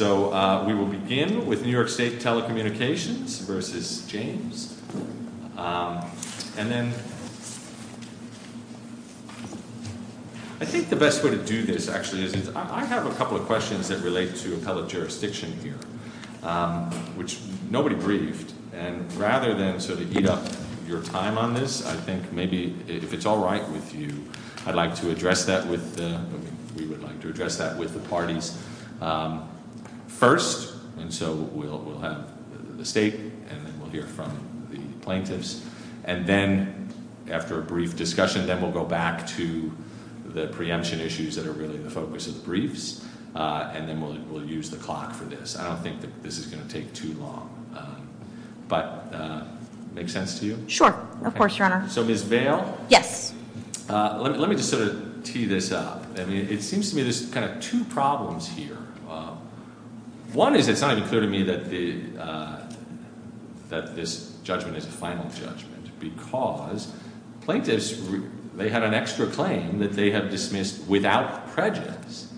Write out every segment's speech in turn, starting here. I think the best way to do this actually is, I have a couple of questions that relate to the public jurisdiction here, which nobody briefed, and rather than sort of eat up your time on this, I think maybe if it's all right with you, I'd like to address that with, we First, and so we'll have the State, and then we'll hear from the plaintiffs, and then after a brief discussion, then we'll go back to the preemption issues that are really the focus of the briefs, and then we'll use the clock for this. I don't think that this is going to take too long, but make sense to you? Sure, of course, Your Honor. So Ms. Vail? Yes. Let me just sort of tee this out. I mean, it seems to me there's kind of two problems here. One is, it's not even clear to me that this judgment is a final judgment, because plaintiffs, they had an extra claim that they have dismissed without prejudice,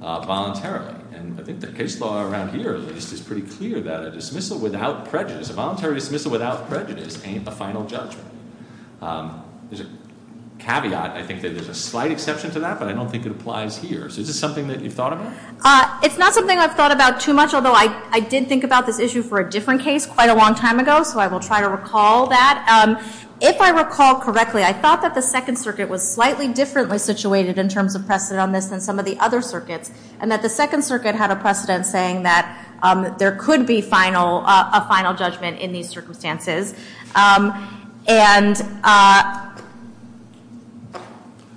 voluntarily. And I think the case law around here is pretty clear that a dismissal without prejudice, a voluntary dismissal without prejudice, ain't a final judgment. As a caveat, I think that there's a slight exception to that, but I don't think it applies to yours. Is this something that you've thought about? It's not something I've thought about too much, although I did think about this issue for a different case quite a long time ago, so I will try to recall that. If I recall correctly, I thought that the Second Circuit was slightly differently situated in terms of precedent on this than some of the other circuits, and that the Second Circuit had a precedent saying that there could be a final judgment in these circumstances. And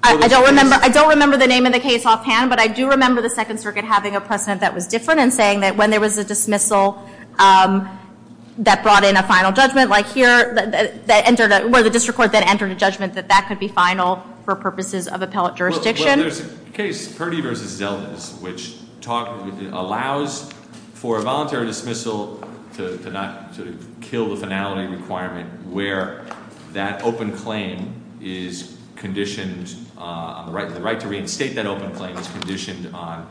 I don't remember the name of the case offhand, but I do remember the Second Circuit having a precedent that was different in saying that when there was a dismissal that brought in a final judgment, like here, where the district court then entered a judgment that that could be final for purposes of appellate jurisdiction. Well, there's a case, Perdy v. Zeldins, which allows for a voluntary dismissal to not kill a penalty requirement where that open claim is conditioned on the right to reinstate that open claim is conditioned on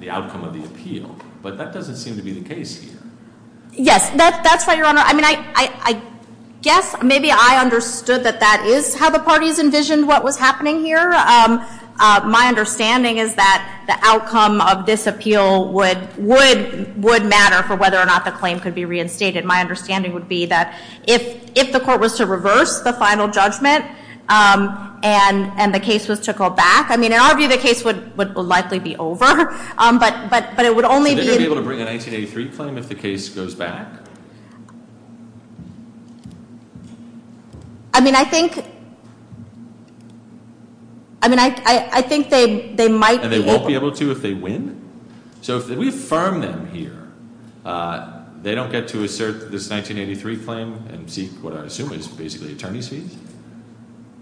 the outcome of the appeal. But that doesn't seem to be the case here. Yes, that's right, Your Honor. I mean, I guess maybe I understood that that is how the parties envisioned what was happening here. My understanding is that the outcome of this appeal would matter for whether or not the claim could be reinstated. My understanding would be that if the court was to reverse the final judgment and the case was to go back, I mean, in our view, the case would likely be over, but it would only be... Would they be able to bring a 1983 claim if the case goes back? I mean, I think... I mean, I think they might... And they won't be able to if they win? So if we affirm them here, they don't get to assert this 1983 claim and seek what I assume is basically attorney's fees?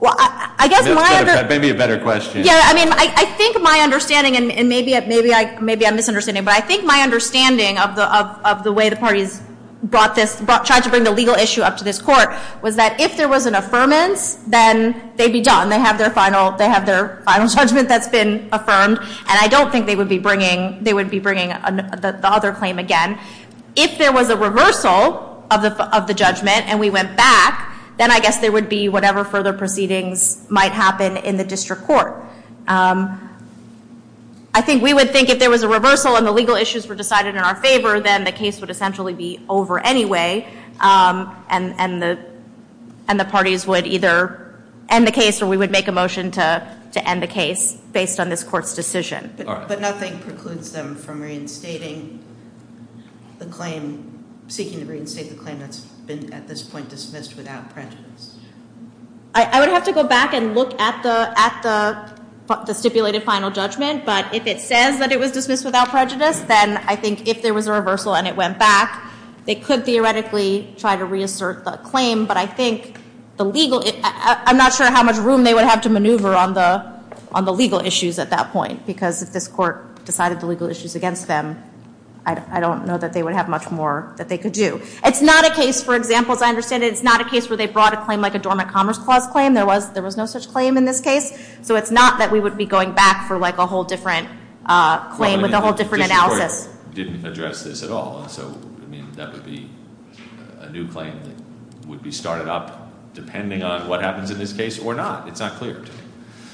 Well, I guess my... Maybe a better question. Yeah, I mean, I think my understanding, and maybe I'm misunderstanding, but I think my understanding of the way the parties brought this... Tried to bring the legal issue up to this court was that if there was an affirmance, then they'd be done. They have their final judgment that's been affirmed, and I don't think they would be bringing the other claim again. If there was a reversal of the judgment and we went back, then I guess there would be whatever further proceedings might happen in the district court. I think we would think if there was a reversal and the legal issues were decided in our favor, then the case would essentially be over anyway, and the parties would either end the case or we would make a motion to end the case based on this court's decision. But nothing precludes them from reinstating the claim... Seeking to reinstate the claim that's been at this point dismissed without prejudice. I would have to go back and look at the stipulated final judgment, but if it says that it was dismissed without prejudice, then I think if there was a reversal and it went back, they could theoretically try to reinsert a claim, but I think the legal... I'm not sure how much room they would have to maneuver on the legal issues at that point because if this court decided the legal issues against them, I don't know that they would have much more that they could do. It's not a case, for example, as I understand it, it's not a case where they brought a claim like a dormant commerce clause claim. There was no such claim in this case, so it's not that we would be going back for a whole different claim with a whole different analysis. The district court didn't address this at all, so that would be a new claim that would be started up depending on what happens in this case or not. It's not clear.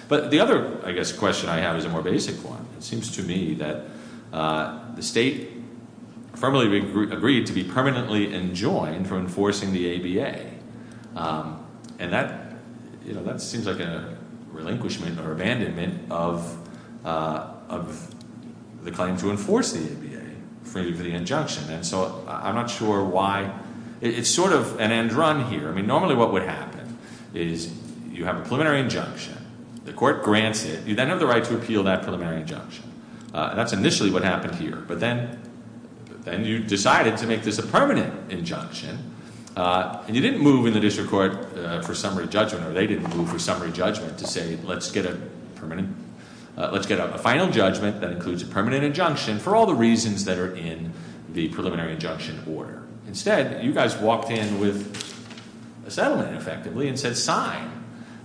But the other, I guess, question I have is a more basic one. It seems to me that the state firmly agrees to be permanently enjoined for enforcing the ABA, and that seems like a relinquishment or abandonment of the claim to enforce the ABA for the injunction, and so I'm not sure why... It's sort of an end run here. Normally what would happen is you have a preliminary injunction, the court grants it, you then have the right to appeal that preliminary injunction. That's initially what happened here, but then you decided to make this a permanent injunction, and you didn't move in the district court for summary judgment, or they didn't move for summary judgment to say let's get a final judgment that includes a permanent injunction for all the reasons that are in the preliminary injunction order. Instead, you guys walked in with a settlement effectively and said sign,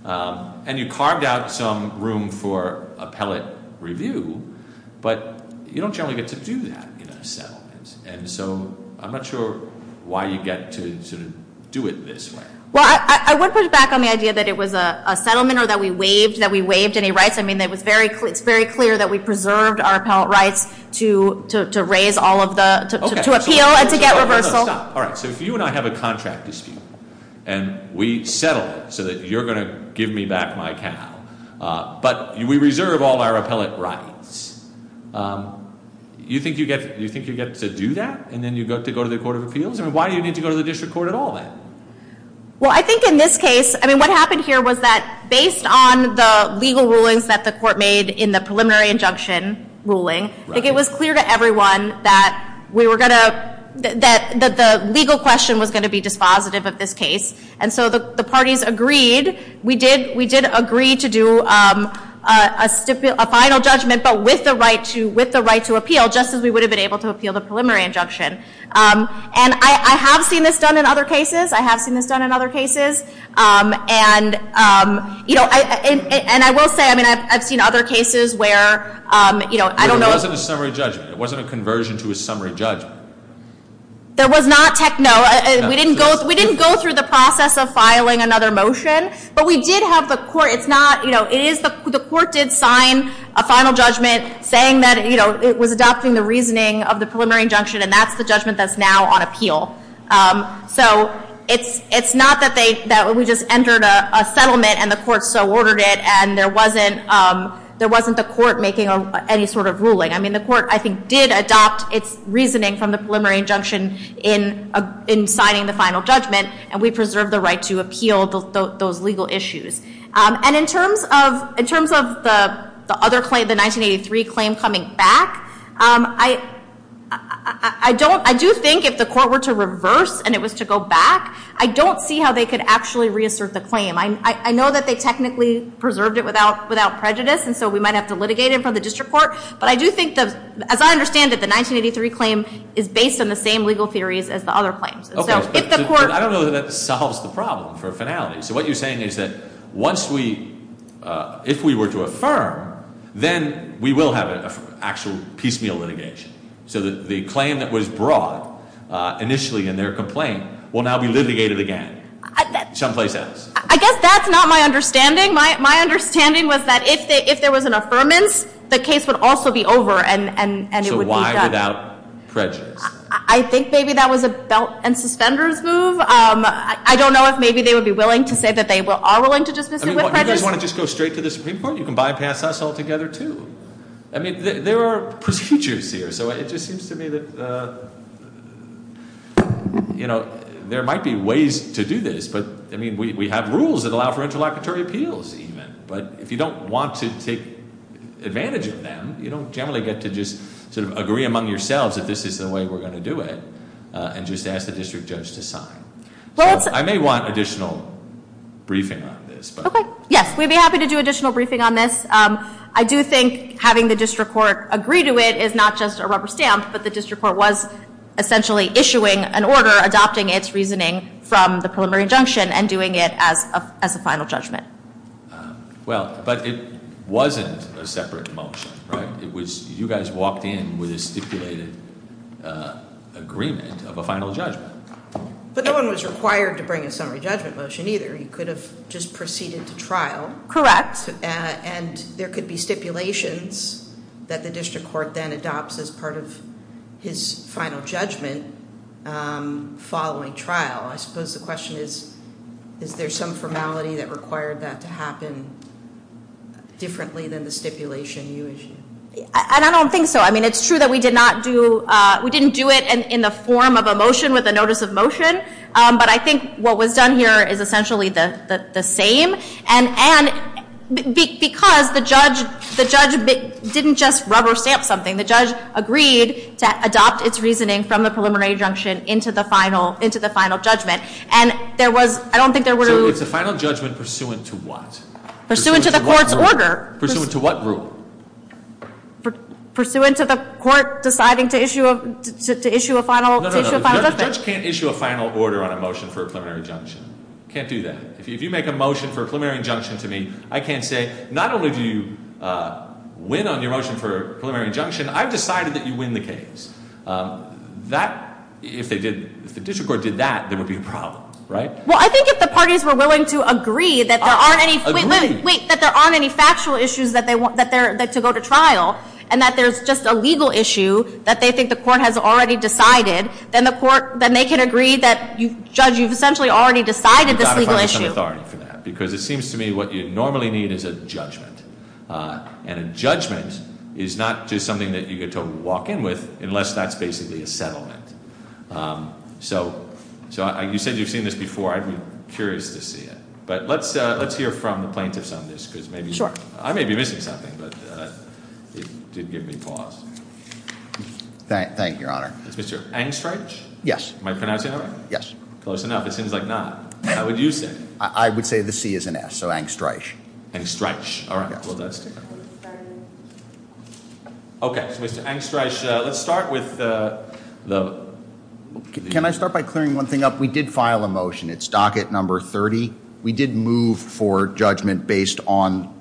and you carved out some room for appellate review, but you don't generally get to do that in a settlement, and so I'm not sure why you get to do it this way. Well, I would push back on the idea that it was a settlement or that we waived any rights. I mean, it's very clear that we preserved our appellate rights to raise all of the... All right, so you and I have a contract dispute, and we settled it so that you're going to give me back my capital, but we reserve all our appellate rights. Do you think you get to do that, and then you get to go to the court of appeals? I mean, why do you need to go to the district court at all then? Well, I think in this case, I mean, what happened here was that based on the legal rulings that the court made in the preliminary injunction ruling, I think it was clear to everyone that the legal question was going to be dispositive of this case, and so the parties agreed. We did agree to do a final judgment, but with the right to appeal, just as we would have been able to appeal the preliminary injunction, and I have seen this done in other cases. I have seen this done in other cases, and I will say, I mean, I've seen other cases where, you know, I don't know... There wasn't a summary judgment. There wasn't a conversion to a summary judgment. There was not. Heck, no. We didn't go through the process of filing another motion, but we did have the court. It's not, you know, the court did sign a final judgment saying that, you know, it was adopting the reasoning of the preliminary injunction, and that's the judgment that's now on appeal. So it's not that we just entered a settlement, and the court so ordered it, and there wasn't the court making any sort of ruling. I mean, the court, I think, did adopt its reasoning from the preliminary injunction in signing the final judgment, and we preserved the right to appeal those legal issues. And in terms of the other claim, the 1983 claim coming back, I don't... I do think if the court were to reverse and it was to go back, I don't see how they could actually reassert the claim. I know that they technically preserved it without prejudice, and so we might have to litigate it from the district court, but I do think that, as I understand it, the 1983 claim is based on the same legal theories as the other claims. So if the court... I don't know that that solves the problem for finality. So what you're saying is that once we, if we were to affirm, then we will have an actual piecemeal litigation. So the claim that was brought initially in their complaint will now be litigated again. Something like that. I guess that's not my understanding. My understanding was that if there was an affirmance, the case would also be over and it would be done. So why without prejudice? I think maybe that was a belt and suspenders move. I don't know if maybe they would be willing to say that they are willing to dismiss it with prejudice. I mean, do you want to just go straight to the Supreme Court? You can bypass us altogether, too. I mean, there are procedures here, so it just seems to me that, you know, there might be ways to do this. But, I mean, we have rules that allow for interlocutory appeals even. But if you don't want to take advantage of them, you don't generally get to just sort of agree among yourselves that this is the way we're going to do it and just ask the district judge to sign. I may want additional briefing on this. Okay. Yes, we'd be happy to do additional briefing on this. I do think having the district court agree to it is not just a rubber stamp, but the from the preliminary injunction and doing it as a final judgment. Well, but it wasn't a separate motion, right? You guys walked in with a stipulated agreement of a final judgment. But no one was required to bring a summary judgment motion, either. He could have just proceeded to trial. Correct. And there could be stipulations that the district court then adopts as part of his final judgment following trial. I suppose the question is, is there some formality that required that to happen differently than the stipulation usually? I don't think so. I mean, it's true that we did not do, we didn't do it in the form of a motion with a notice of motion. But I think what was done here is essentially the same. And because the judge didn't just rubber stamp something. The judge agreed to adopt its reasoning from the preliminary injunction into the final judgment. And there was, I don't think there was... So it's the final judgment pursuant to what? Pursuant to the court's order. Pursuant to what rule? Pursuant to the court deciding to issue a final... No, no, no. Judges can't issue a final order on a motion for a preliminary injunction. Can't do that. If you make a motion for a preliminary injunction to me, I can't say, not only do you win on your motion for a preliminary injunction, I've decided that you win the case. That, if the district court did that, there would be problems, right? Well, I think if the parties were willing to agree that there aren't any... Agree? Wait, that there aren't any factual issues that they want to go to trial, and that there's just a legal issue that they think the court has already decided, then the court, then they can agree that you've essentially already decided this legal issue. You've got to find some authority for that. Because it seems to me what you normally need is a judgment. And a judgment is not just something that you get to walk in with, unless that's basically a settlement. So, you said you've seen this before. I'd be curious to see it. But let's hear from the plaintiff on this, because maybe... Sure. I may be missing something, but if you'd give me pause. Thank you, Your Honor. Mr. Engstreich? Yes. Am I pronouncing that right? Yes. Close enough. It seems like not. How would you say it? I would say the C is an S, so Engstreich. Engstreich. Okay. Well, that's... Okay. So, Mr. Engstreich, let's start with the... Can I start by clearing one thing up? We did file a motion. It's docket number 30. We did move for judgment based on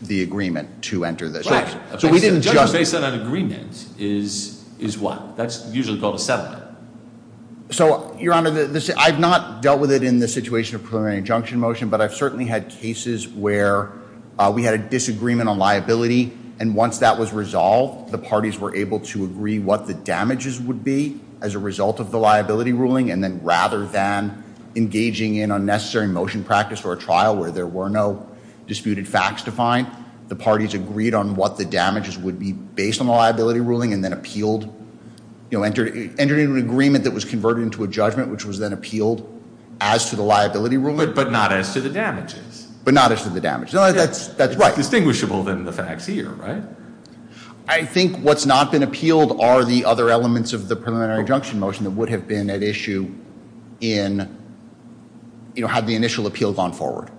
the agreement to enter this. Right. So, we didn't... Judgment based on an agreement is what? That's usually called a settlement. So, Your Honor, I've not dealt with it in the situation of preliminary injunction motion, but I've certainly had cases where we had a disagreement on liability, and once that was resolved, the parties were able to agree what the damages would be as a result of the liability ruling, and then rather than engaging in unnecessary motion practice or a trial where there were no disputed facts to find, the parties agreed on what the damages would be based on the liability ruling and then appealed... You know, entered into an agreement that was converted into a judgment, which was then appealed as to the liability ruling... But not as to the damages. But not as to the damages. No, that's right. It's more distinguishable than the facts here, right? I think what's not been appealed are the other elements of the preliminary injunction motion that would have been at issue in, you know, had the initial appeal gone forward.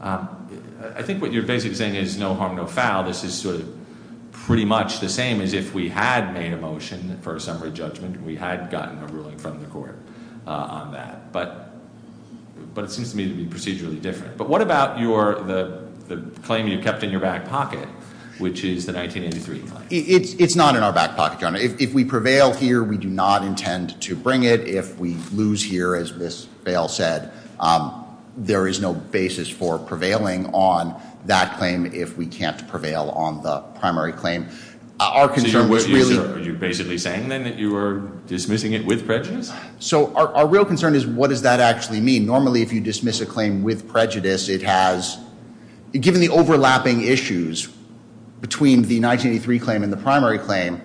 I think what you're basically saying is no harm, no foul. This is sort of pretty much the same as if we had made a motion for a summary judgment and we had gotten a ruling from the court on that. But it seems to me to be procedurally different. But what about the claim you kept in your back pocket, which is the 1983 claim? It's not in our back pocket. If we prevail here, we do not intend to bring it. If we lose here, as this bail said, there is no basis for prevailing on that claim if we can't prevail on the primary claim. So you're basically saying then that you were dismissing it with prejudice? So our real concern is what does that actually mean? Normally if you dismiss a claim with prejudice, it has, given the overlapping issues between the 1983 claim and the primary claim,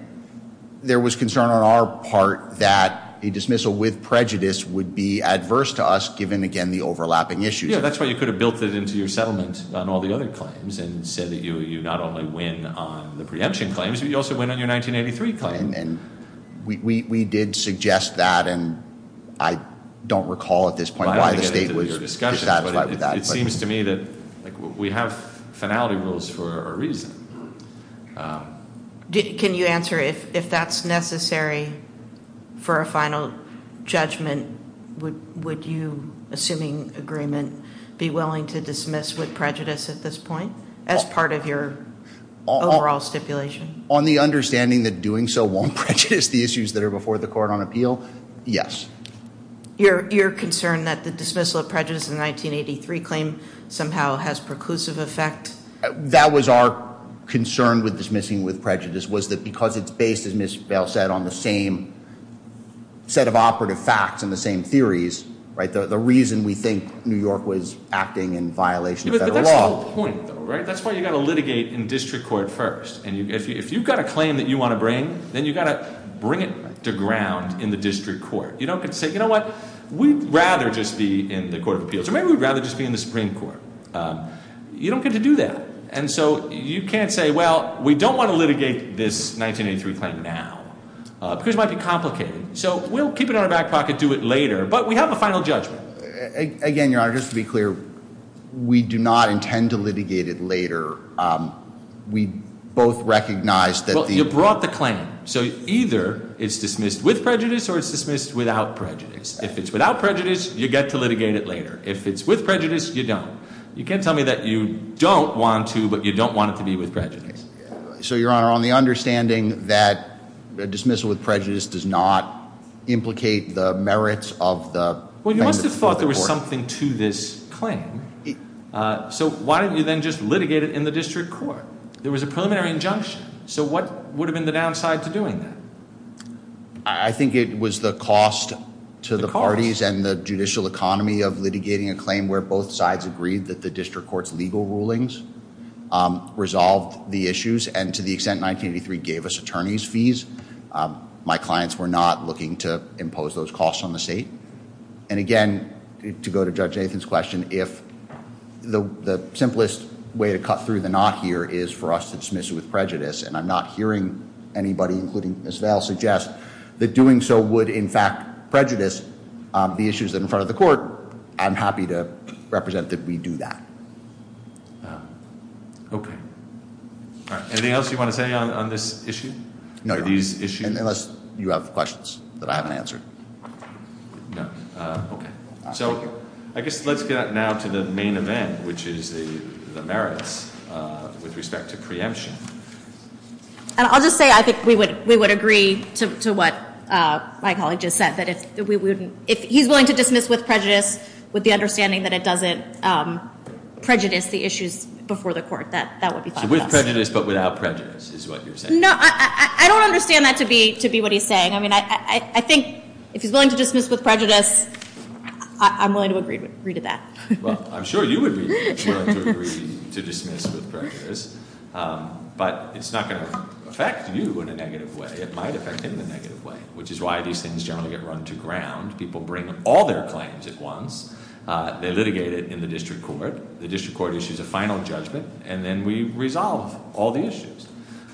there was concern on our part that a dismissal with prejudice would be adverse to us given, again, the overlapping issues. Yeah, that's why you could have built it into your settlement on all the other claims and said that you not only win on the preemption claims, but you also win on your 1983 claim. And we did suggest that, and I don't recall at this point why the state was establishing that. It seems to me that we have finality rules for a reason. Can you answer if that's necessary for a final judgment, would you, assuming agreement, be willing to dismiss with prejudice at this point as part of your overall stipulation? On the understanding that doing so won't prejudice the issues that are before the court on appeal, yes. You're concerned that the dismissal of prejudice in the 1983 claim somehow has preclusive effect? That was our concern with dismissing with prejudice, was that because it's based, as Ms. Bell said, on the same set of operative facts and the same theories, the reason we think New York was acting in violation of federal law. That's why you've got to litigate in district court first. And if you've got a claim that you want to bring, then you've got to bring it to ground in the district court. You don't have to say, you know what, we'd rather just be in the court of appeals, or maybe we'd rather just be in the Supreme Court. You don't get to do that. And so you can't say, well, we don't want to litigate this 1983 claim now. Because it might be complicated. So we'll keep it out of back pocket, do it later, but we have a final judgment. Again, Your Honor, just to be clear, we do not intend to litigate it later. We both recognize that the— Well, you brought the claim. So either it's dismissed with prejudice or it's dismissed without prejudice. If it's without prejudice, you get to litigate it later. If it's with prejudice, you don't. You can't tell me that you don't want to, but you don't want it to be with prejudice. So, Your Honor, on the understanding that a dismissal with prejudice does not implicate the merits of the— Well, you must have thought there was something to this claim. So why don't you then just litigate it in the district court? There was a preliminary injunction. So what would have been the downside to doing that? I think it was the cost to the parties and the judicial economy of litigating a claim where both sides agreed that the district court's legal rulings resolved the issues. And to the extent 1983 gave us attorney's fees, my clients were not looking to impose those costs on the state. And again, to go to Judge Nathan's question, if the simplest way to cut through the knot here is for us to dismiss it with prejudice, and I'm not hearing anybody, including Ms. Vail, suggest that doing so would in fact prejudice the issues in front of the court, I'm happy to represent that we do that. Okay. Anything else you want to say on this issue? No, these issues— Unless you have questions that I haven't answered. No. So I guess let's get now to the main event, which is the merits with respect to preemption. I'll just say I think we would agree to what my colleague just said, that if we wouldn't—if he's willing to dismiss with prejudice, with the understanding that it doesn't prejudice the issues before the court, that would be fine. So with prejudice but without prejudice is what you're saying? No, I don't understand that to be what he's saying. I mean, I think if he's willing to dismiss with prejudice, I'm willing to agree to that. Well, I'm sure you would be willing to agree to dismiss with prejudice, but it's not going to affect you in a negative way. It might affect him in a negative way, which is why these things generally get run to ground. People bring all their claims at once. They're litigated in the district court. The district court issues a final judgment, and then we resolve all the issues.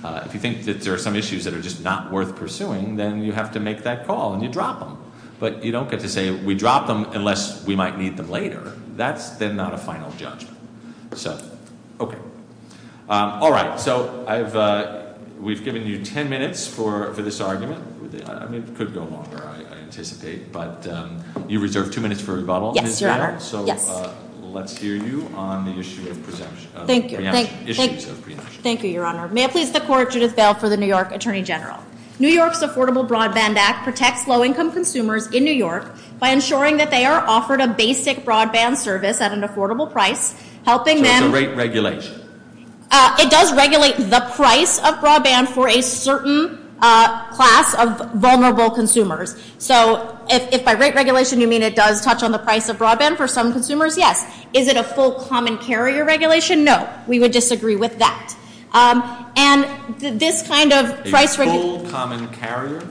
If you think that there are some issues that are just not worth pursuing, then you have to make that call and you drop them. But you don't get to say, we dropped them unless we might need them later. That's not a final judgment. So, okay. All right. So we've given you 10 minutes for this argument. It could go longer, I anticipate, but you reserve two minutes for rebuttal. Yes, Your Honor. So let's hear you on the issue of preemption. Thank you. Thank you, Your Honor. May it please the Court, Judge Bell for the New York Attorney General. New York's Affordable Broadband Act protects low-income consumers in New York by ensuring that they are offered a basic broadband service at an affordable price, helping them to- Does the rate regulate? It does regulate the price of broadband for a certain class of vulnerable consumers. So if by rate regulation you mean it does touch on the price of broadband for some consumers, yes. Is it a full common carrier regulation? No. We would disagree with that. And this kind of price- Is it a full common carrier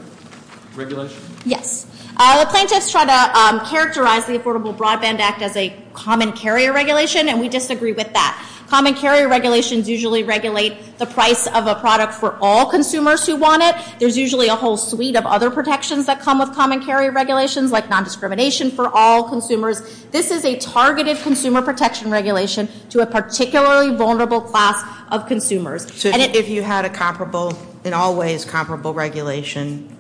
regulation? Yes. Scientists try to characterize the Affordable Broadband Act as a common carrier regulation, and we disagree with that. Common carrier regulations usually regulate the price of a product for all consumers who want it. There's usually a whole suite of other protections that come with common carrier regulations, like nondiscrimination for all consumers. This is a targeted consumer protection regulation to a particularly vulnerable class of consumers. So if you had a comparable, in all ways comparable regulation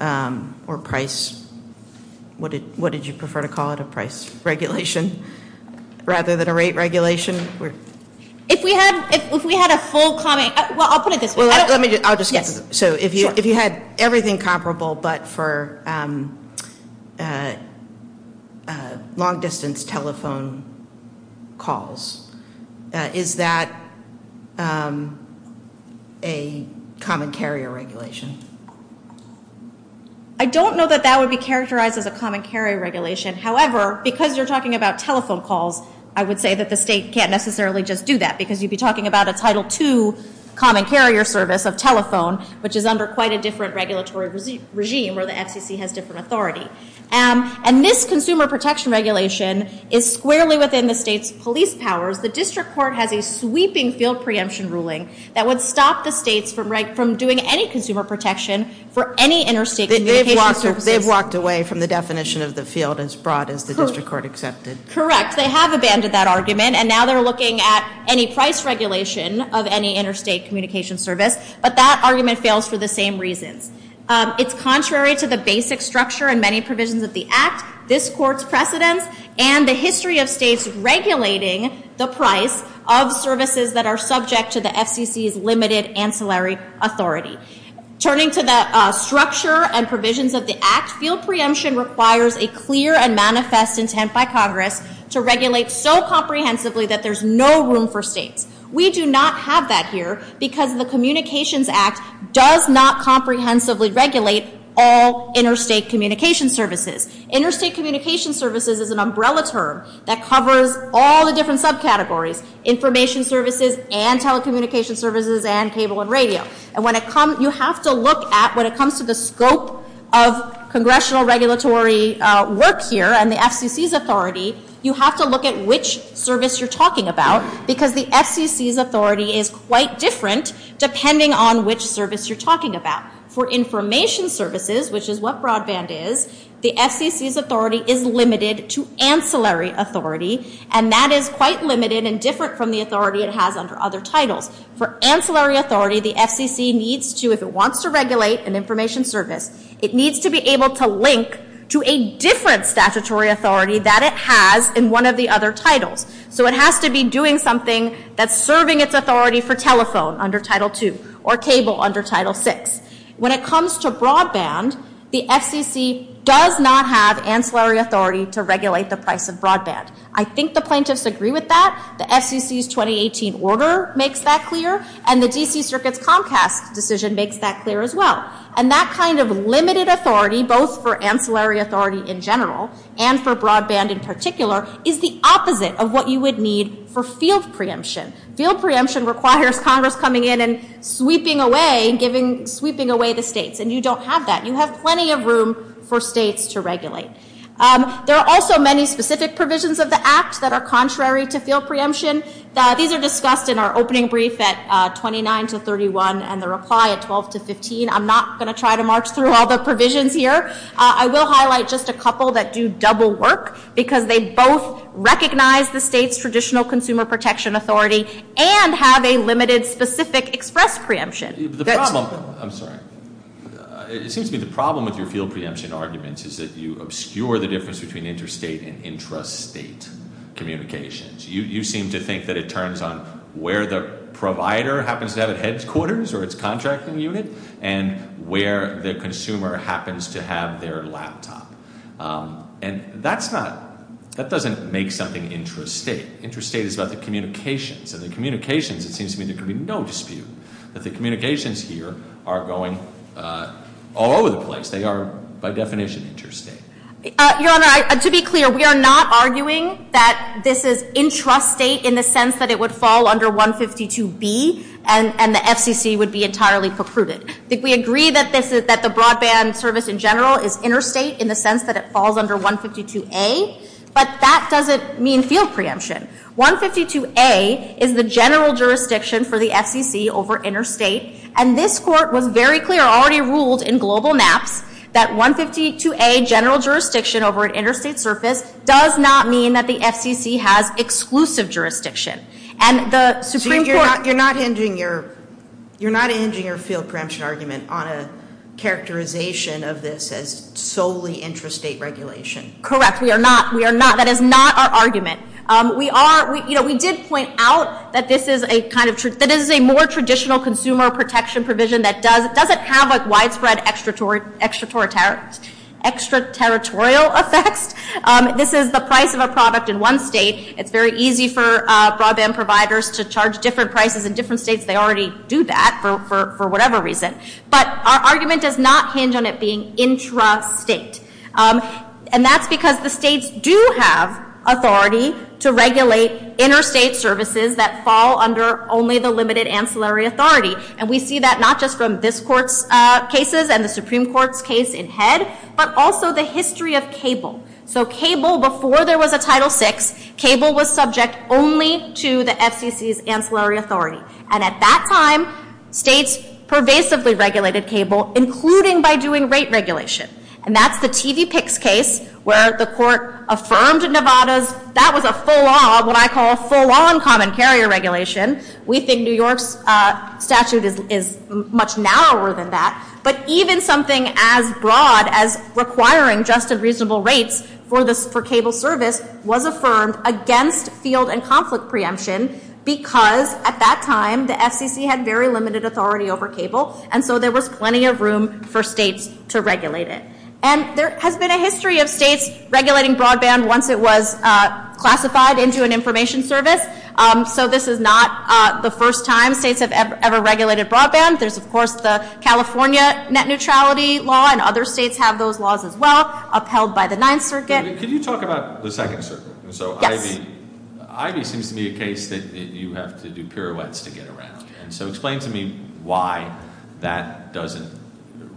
or price- What did you prefer to call it? A price regulation rather than a rate regulation? If we had a full common- Well, I'll put it this way. So if you had everything comparable but for long-distance telephone calls, is that a common carrier regulation? I don't know that that would be characterized as a common carrier regulation. However, because you're talking about telephone calls, I would say that the state can't necessarily just do that, because you'd be talking about a Title II common carrier service of telephone, which is under quite a different regulatory regime where the FCC has different authority. And this consumer protection regulation is squarely within the state's police powers. The district court has a sweeping field preemption ruling that would stop the state from doing any consumer protection for any interstate- They've walked away from the definition of the field as broad as the district court accepted. Correct. They have abandoned that argument, and now they're looking at any price regulation of any interstate communication service. But that argument fails for the same reason. It's contrary to the basic structure and many provisions of the Act, this court's precedent, and the history of states regulating the price of services that are subject to the FCC's limited ancillary authority. Turning to the structure and provisions of the Act, field preemption requires a clear and manifest intent by Congress to regulate so comprehensively that there's no room for states. We do not have that here, because the Communications Act does not comprehensively regulate all interstate communication services. Interstate communication services is an umbrella term that covers all the different subcategories, information services and telecommunication services and cable and radio. And when it comes- You have to look at, when it comes to the scope of congressional regulatory work here and the FCC's authority, you have to look at which service you're talking about, because the FCC's authority is quite different depending on which service you're talking about. For information services, which is what broadband is, the FCC's authority is limited to ancillary authority, and that is quite limited and different from the authority it has under other titles. For ancillary authority, the FCC needs to, if it wants to regulate an information service, it needs to be able to link to a different statutory authority that it has in one of the other titles. So it has to be doing something that's serving its authority for telephone under Title II, or cable under Title VI. When it comes to broadband, the FCC does not have ancillary authority to regulate the price of broadband. I think the plaintiffs agree with that. The FCC's 2018 order makes that clear, and the D.C. Circuit's Comcast decision makes that clear as well. And that kind of limited authority, both for ancillary authority in general and for broadband in particular, is the opposite of what you would need for field preemption. Field preemption requires Congress coming in and sweeping away the states, and you don't have that. You have plenty of room for states to regulate. There are also many specific provisions of the Act that are contrary to field preemption. These are discussed in our opening brief at 29 to 31 and the reply at 12 to 15. I'm not going to try to march through all the provisions here. I will highlight just a couple that do double work, because they both recognize the state's traditional consumer protection authority and have a limited specific express preemption. The problem with your field preemption argument is that you obscure the difference between interstate and intrastate communications. You seem to think that it turns on where the provider happens to be at headquarters or its contracting unit and where the consumer happens to have their laptop. And that doesn't make something intrastate. Intrastate is about the communications, and the communications seems to me to be no skew, that the communications here are going all over the place. They are by definition intrastate. Your Honor, to be clear, we are not arguing that this is intrastate in the sense that it would fall under 152B and the FCC would be entirely precluded. We agree that the broadband service in general is interstate in the sense that it falls under 152A, but that doesn't mean field preemption. 152A is the general jurisdiction for the FCC over interstate, and this Court was very clear, already ruled in global math, that 152A, general jurisdiction over an interstate service, does not mean that the FCC has exclusive jurisdiction. You're not ending your field preemption argument on a characterization of this as solely intrastate regulation. Correct. We are not. That is not our argument. We did point out that this is a more traditional consumer protection provision that doesn't have a widespread extraterritorial effect. This is the price of a product in one state. It's very easy for broadband providers to charge different prices in different states. They already do that for whatever reason. But our argument does not hinge on it being intrastate, and that's because the states do have authority to regulate interstate services that fall under only the limited ancillary authority, and we see that not just from this Court's cases and the Supreme Court's case in head, but also the history of cable. So cable, before there was a Title VI, cable was subject only to the FCC's ancillary authority. And at that time, states pervasively regulated cable, including by doing rate regulation. And that's the TVPICS case where the Court affirmed in Nevada that was a full-on, what I call full-on common carrier regulation. We think New York's statute is much narrower than that. But even something as broad as requiring just a reasonable rate for cable service was affirmed against field and conflict preemption because at that time the FCC had very limited authority over cable, and so there was plenty of room for states to regulate it. And there has been a history of states regulating broadband once it was classified into an information service. So this is not the first time states have ever regulated broadband. There's, of course, the California net neutrality law, and other states have those laws as well, upheld by the Ninth Circuit. Can you talk about the second system? So IVY seems to me a case that you have to do pirouettes to get around. So explain to me why that doesn't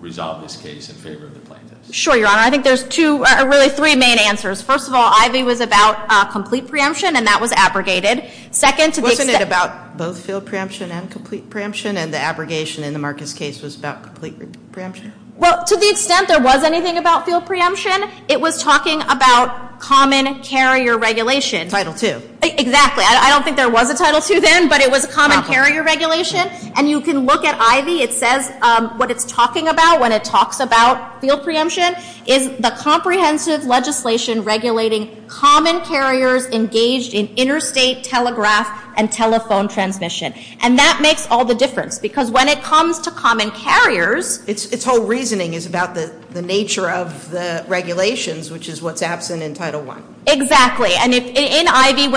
resolve this case in favor of the plaintiffs. Sure, Your Honor. I think there's really three main answers. First of all, IVY was about complete preemption, and that was abrogated. Wasn't it about both field preemption and complete preemption, and the abrogation in the Marcus case was about complete preemption? Well, to the extent there was anything about field preemption, it was talking about common carrier regulation. Title II. Exactly. I don't think there was a Title II then, but it was a common carrier regulation. And you can look at IVY. It says what it's talking about when it talks about field preemption is the comprehensive legislation regulating common carriers engaged in interstate telegraph and telephone transmission. And that makes all the difference, because when it comes to common carriers, its whole reasoning is about the nature of the regulations, which is what's absent in Title I. Exactly. And in IVY,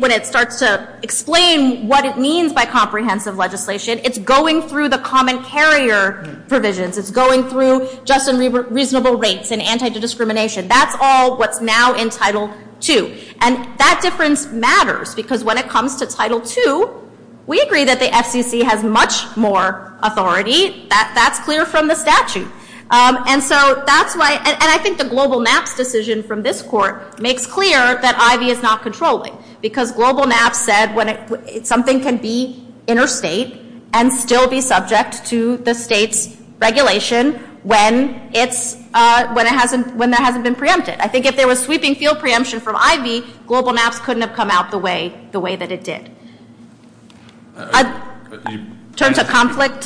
when it starts to explain what it means by comprehensive legislation, it's going through the common carrier provisions. It's going through just and reasonable rates and antidiscrimination. That's all what's now in Title II. And that difference matters, because when it comes to Title II, we agree that the FCC has much more authority. That's clear from the statute. And I think the global NAPS decision from this court makes clear that IVY is not controlling, because global NAPS said something can be interstate and still be subject to the state's regulation when that hasn't been preempted. I think if there was sweeping field preemption from IVY, global NAPS couldn't have come out the way that it did. I'm happy to turn to conflict.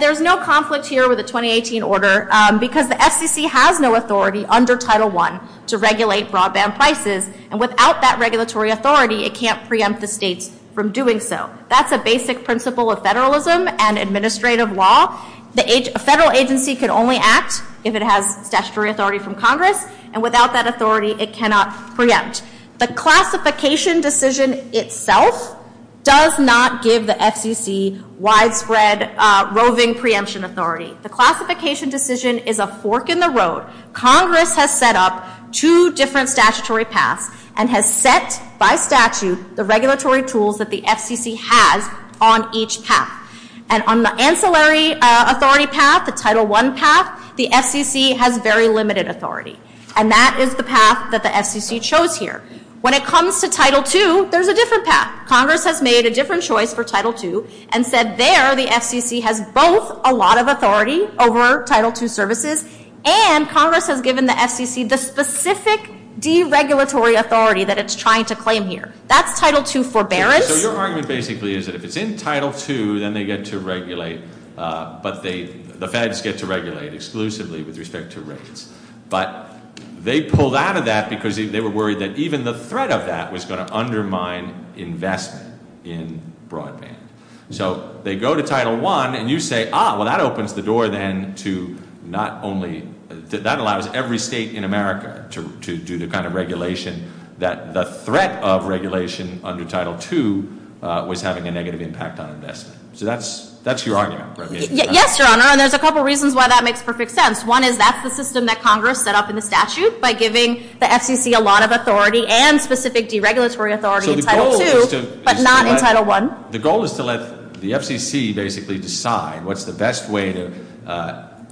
There's no conflict here with the 2018 order, because the FCC has no authority under Title I to regulate broadband prices, and without that regulatory authority, it can't preempt the state from doing so. That's a basic principle of federalism and administrative law. A federal agency can only act if it has statutory authority from Congress, and without that authority, it cannot preempt. The classification decision itself does not give the FCC widespread roving preemption authority. The classification decision is a fork in the road. Congress has set up two different statutory paths and has set by statute the regulatory tools that the FCC has on each path. On the ancillary authority path, the Title I path, the FCC has very limited authority, and that is the path that the FCC chose here. When it comes to Title II, there's a different path. Congress has made a different choice for Title II and said there the FCC has both a lot of authority over Title II services and Congress has given the FCC the specific deregulatory authority that it's trying to claim here. That's Title II forbearance. So your argument basically is that if it's in Title II, then they get to regulate, but the feds get to regulate exclusively with respect to rates. But they pulled out of that because they were worried that even the threat of that was going to undermine investment in broadband. So they go to Title I and you say, ah, well, that opens the door then to not only— that allows every state in America to do the kind of regulation that the threat of regulation under Title II was having a negative impact on investment. So that's your argument, right? Yes, Your Honor, and there's a couple reasons why that makes perfect sense. One is that's the system that Congress set up in the statute by giving the FCC a lot of authority and specific deregulatory authority in Title II, but not in Title I. The goal is to let the FCC basically decide what's the best way to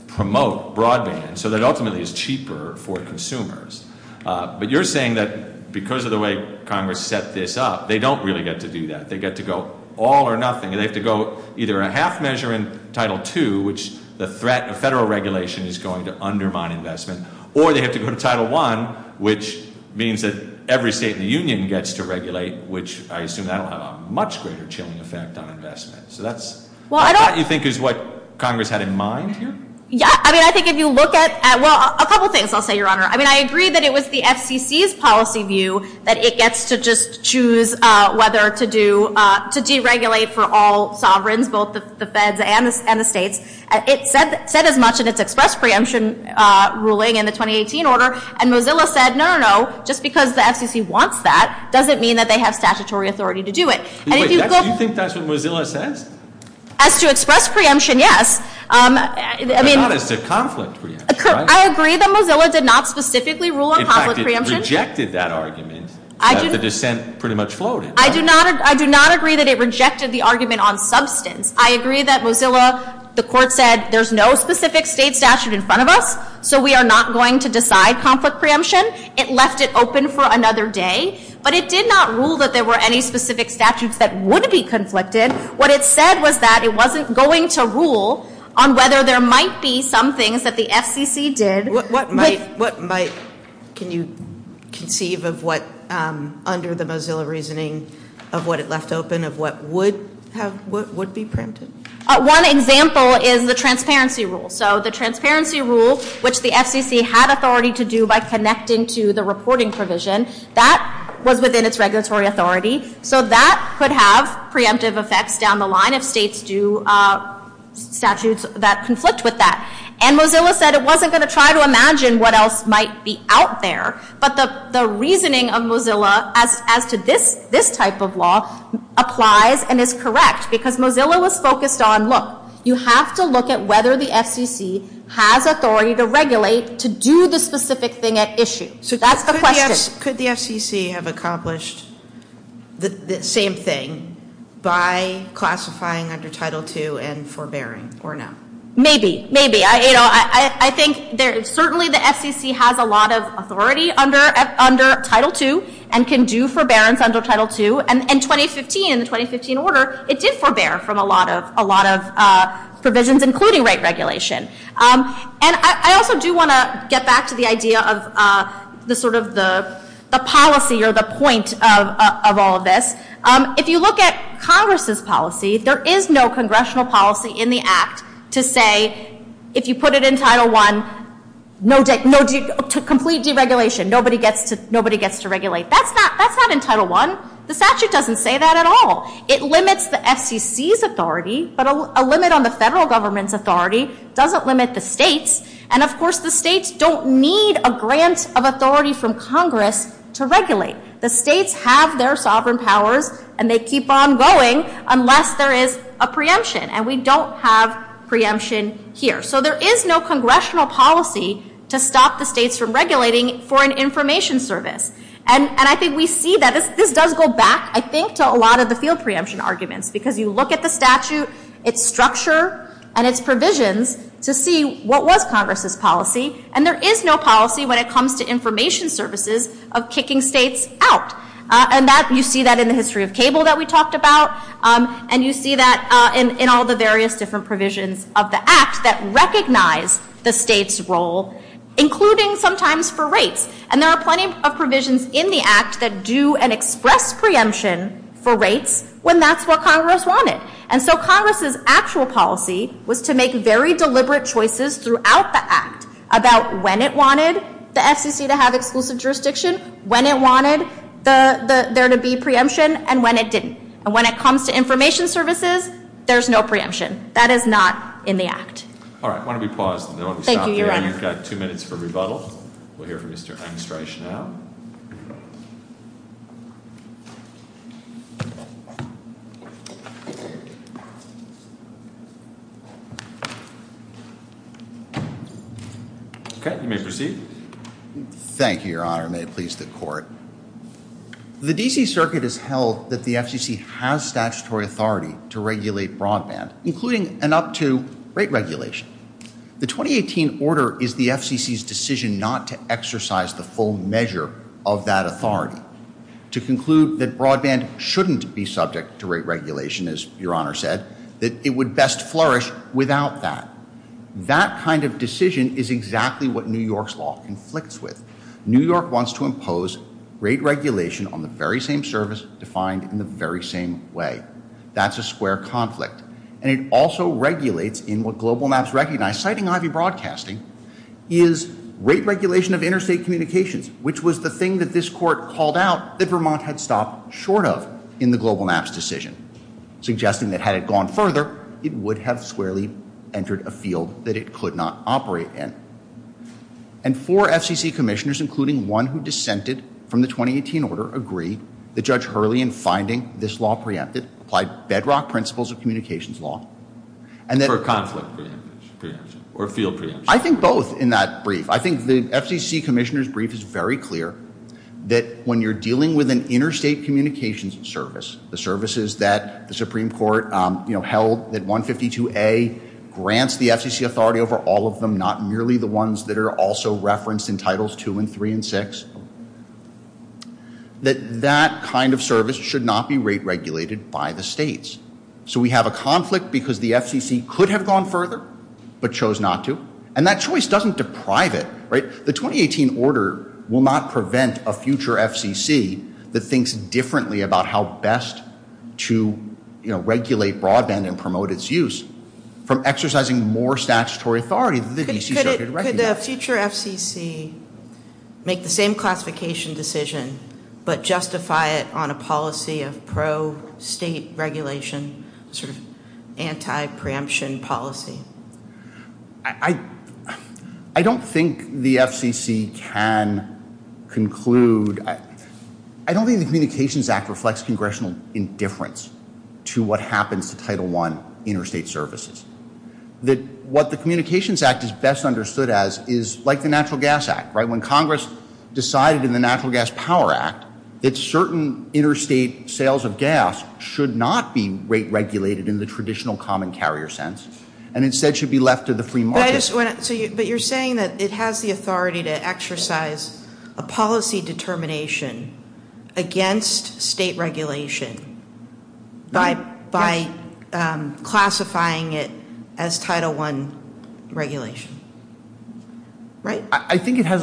promote broadband so that ultimately it's cheaper for consumers. But you're saying that because of the way Congress set this up, they don't really get to do that. They get to go all or nothing. They have to go either a half measure in Title II, which the threat of federal regulation is going to undermine investment, or they have to go to Title I, which means that every state in the union gets to regulate, which I assume that will have a much greater chilling effect on investment. So that's what you think is what Congress had in mind? Yes, I mean, I think if you look at—well, a couple things, I'll say, Your Honor. I mean, I agree that it was the FCC's policy view that it gets to just choose whether to do— to deregulate for all sovereigns, both the feds and the states. It said as much in its express preemption ruling in the 2018 order, and Mozilla said, no, no, no, just because the FCC wants that doesn't mean that they have statutory authority to do it. Do you think that's what Mozilla says? As to express preemption, yes. Your Honor, it's a conflict. I agree that Mozilla did not specifically rule on conflict preemption. In fact, it rejected that argument. The dissent pretty much floated. I do not agree that it rejected the argument on substance. I agree that Mozilla—the court said, there's no specific state statute in front of us, so we are not going to decide conflict preemption. It left it open for another day, but it did not rule that there were any specific statutes that would be conflicted. What it said was that it wasn't going to rule on whether there might be some things that the FCC did. What might? Can you conceive of what, under the Mozilla reasoning, of what it left open, of what would be printed? One example is the transparency rule. So the transparency rule, which the FCC had authority to do by connecting to the reporting provision, that was within its regulatory authority. So that could have preemptive effects down the line if states do statutes that conflict with that. And Mozilla said it wasn't going to try to imagine what else might be out there, but the reasoning of Mozilla as to this type of law applies and is correct, because Mozilla was focused on, look, you have to look at whether the FCC has authority to regulate to do the specific thing at issue. Could the FCC have accomplished the same thing by classifying under Title II and forbearing, or no? Maybe. I think certainly the FCC has a lot of authority under Title II and can do forbearance under Title II. And in the 2015 order, it did forbear from a lot of provisions, including rate regulation. And I also do want to get back to the idea of the policy or the point of all of this. If you look at Congress's policy, there is no congressional policy in the Act to say, if you put it in Title I, complete deregulation. Nobody gets to regulate. That's not in Title I. It limits the FCC's authority, but a limit on the federal government's authority doesn't limit the states. And, of course, the states don't need a grant of authority from Congress to regulate. The states have their sovereign powers, and they keep on going unless there is a preemption. And we don't have preemption here. So there is no congressional policy to stop the states from regulating for an information service. And I think we see that. This does go back, I think, to a lot of the field preemption arguments, because you look at the statute, its structure, and its provisions to see what was Congress's policy, and there is no policy when it comes to information services of kicking states out. And you see that in the history of cable that we talked about, and you see that in all the various different provisions of the Act that recognize the states' role, including sometimes for rates. And there are plenty of provisions in the Act that do and express preemption for rates when that's what Congress wanted. And so Congress's actual policy was to make very deliberate choices throughout the Act about when it wanted the SEC to have exclusive jurisdiction, when it wanted there to be preemption, and when it didn't. And when it comes to information services, there's no preemption. That is not in the Act. All right. Why don't we pause, and then we'll stop here. Thank you, Your Honor. We've got two minutes for rebuttal. We'll hear from Mr. Einstein Chanel. Okay. You may proceed. Thank you, Your Honor. May it please the Court. The D.C. Circuit has held that the FCC has statutory authority to regulate broadband, including and up to rate regulation. The 2018 order is the FCC's decision not to exercise the full measure of that authority to conclude that broadband shouldn't be subject to rate regulation, as Your Honor said, that it would best flourish without that. That kind of decision is exactly what New York's law inflicts with. New York wants to impose rate regulation on the very same service defined in the very same way. That's a square conflict. And it also regulates in what Global Maps recognized. Citing IV Broadcasting, is rate regulation of interstate communications, which was the thing that this Court called out that Vermont had stopped short of in the Global Maps decision, suggesting that had it gone further, it would have squarely entered a field that it could not operate in. And four FCC commissioners, including one who dissented from the 2018 order, agree that Judge Hurley, in finding this law preempted, applied bedrock principles of communications law. And that... Or a conflict preemption. Or a field preemption. I think both in that brief. I think the FCC commissioner's brief is very clear that when you're dealing with an interstate communications service, the services that the Supreme Court held at 152A, grants the FCC authority over all of them, not merely the ones that are also referenced in Titles II and III and VI, that that kind of service should not be rate regulated by the states. So we have a conflict because the FCC could have gone further, but chose not to. And that choice doesn't deprive it, right? The 2018 order will not prevent a future FCC that thinks differently about how best to regulate broadband and promote its use from exercising more statutory authority. Could the future FCC make the same classification decision, but justify it on a policy of pro-state regulation, sort of anti-preemption policy? I don't think the FCC can conclude... I don't think the Communications Act reflects congressional indifference to what happens to Title I interstate services. What the Communications Act is best understood as is like the Natural Gas Act, right? When Congress decided in the Natural Gas Power Act that certain interstate sales of gas should not be rate regulated in the traditional common carrier sense. And instead should be left to the free market. But you're saying that it has the authority to exercise a policy determination against state regulation by classifying it as Title I regulation. Right? I think it has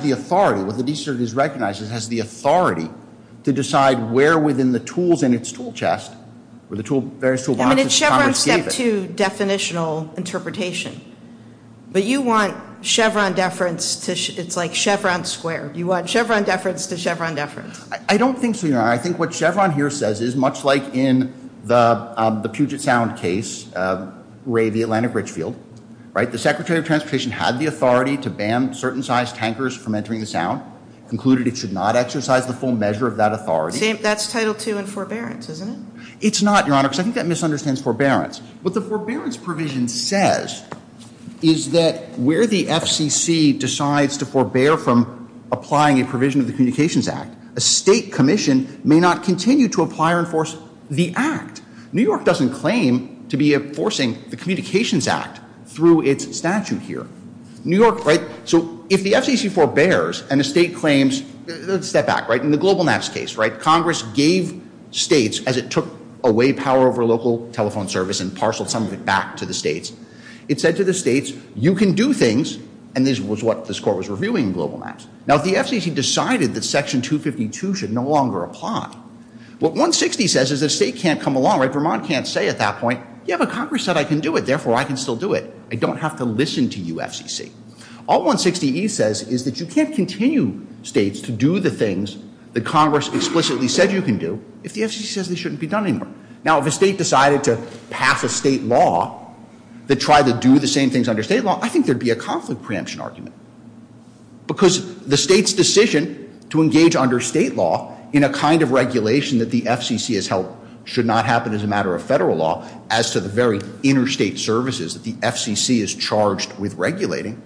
the authority, what the DCS recognizes, it has the authority to decide where within the tools in its tool chest, I mean, it's Chevron Step 2 definitional interpretation. But you want Chevron deference, it's like Chevron Square. You want Chevron deference to Chevron deference. I don't think so, no. I think what Chevron here says is, much like in the Puget Sound case, Ray, the Atlantic Richfield, right? The Secretary of Transportation had the authority to ban certain size tankers from entering the Sound, concluded it should not exercise the full measure of that authority. That's Title II and forbearance, isn't it? It's not, Your Honor, because I think that misunderstands forbearance. What the forbearance provision says is that where the FCC decides to forbear from applying a provision of the Communications Act, a state commission may not continue to apply or enforce the act. New York doesn't claim to be enforcing the Communications Act through its statute here. New York, right? So if the FCC forbears and the state claims, there's a step back, right? In the Global Max case, right? It took away power over local telephone service and parceled some of it back to the states. It said to the states, you can do things, and this was what this court was reviewing in Global Max. Now the FCC decided that Section 252 should no longer apply. What 160 says is the state can't come along, right? Vermont can't say at that point, yeah, but Congress said I can do it, therefore I can still do it. I don't have to listen to you, FCC. All 160E says is that you can't continue, states, to do the things that Congress explicitly said you can do. If the FCC says they shouldn't be done anymore, now if a state decided to pass a state law that tried to do the same things under state law, I think there'd be a conflict preemption argument because the state's decision to engage under state law in a kind of regulation that the FCC has held should not happen as a matter of federal law as to the very interstate services that the FCC is charged with regulating,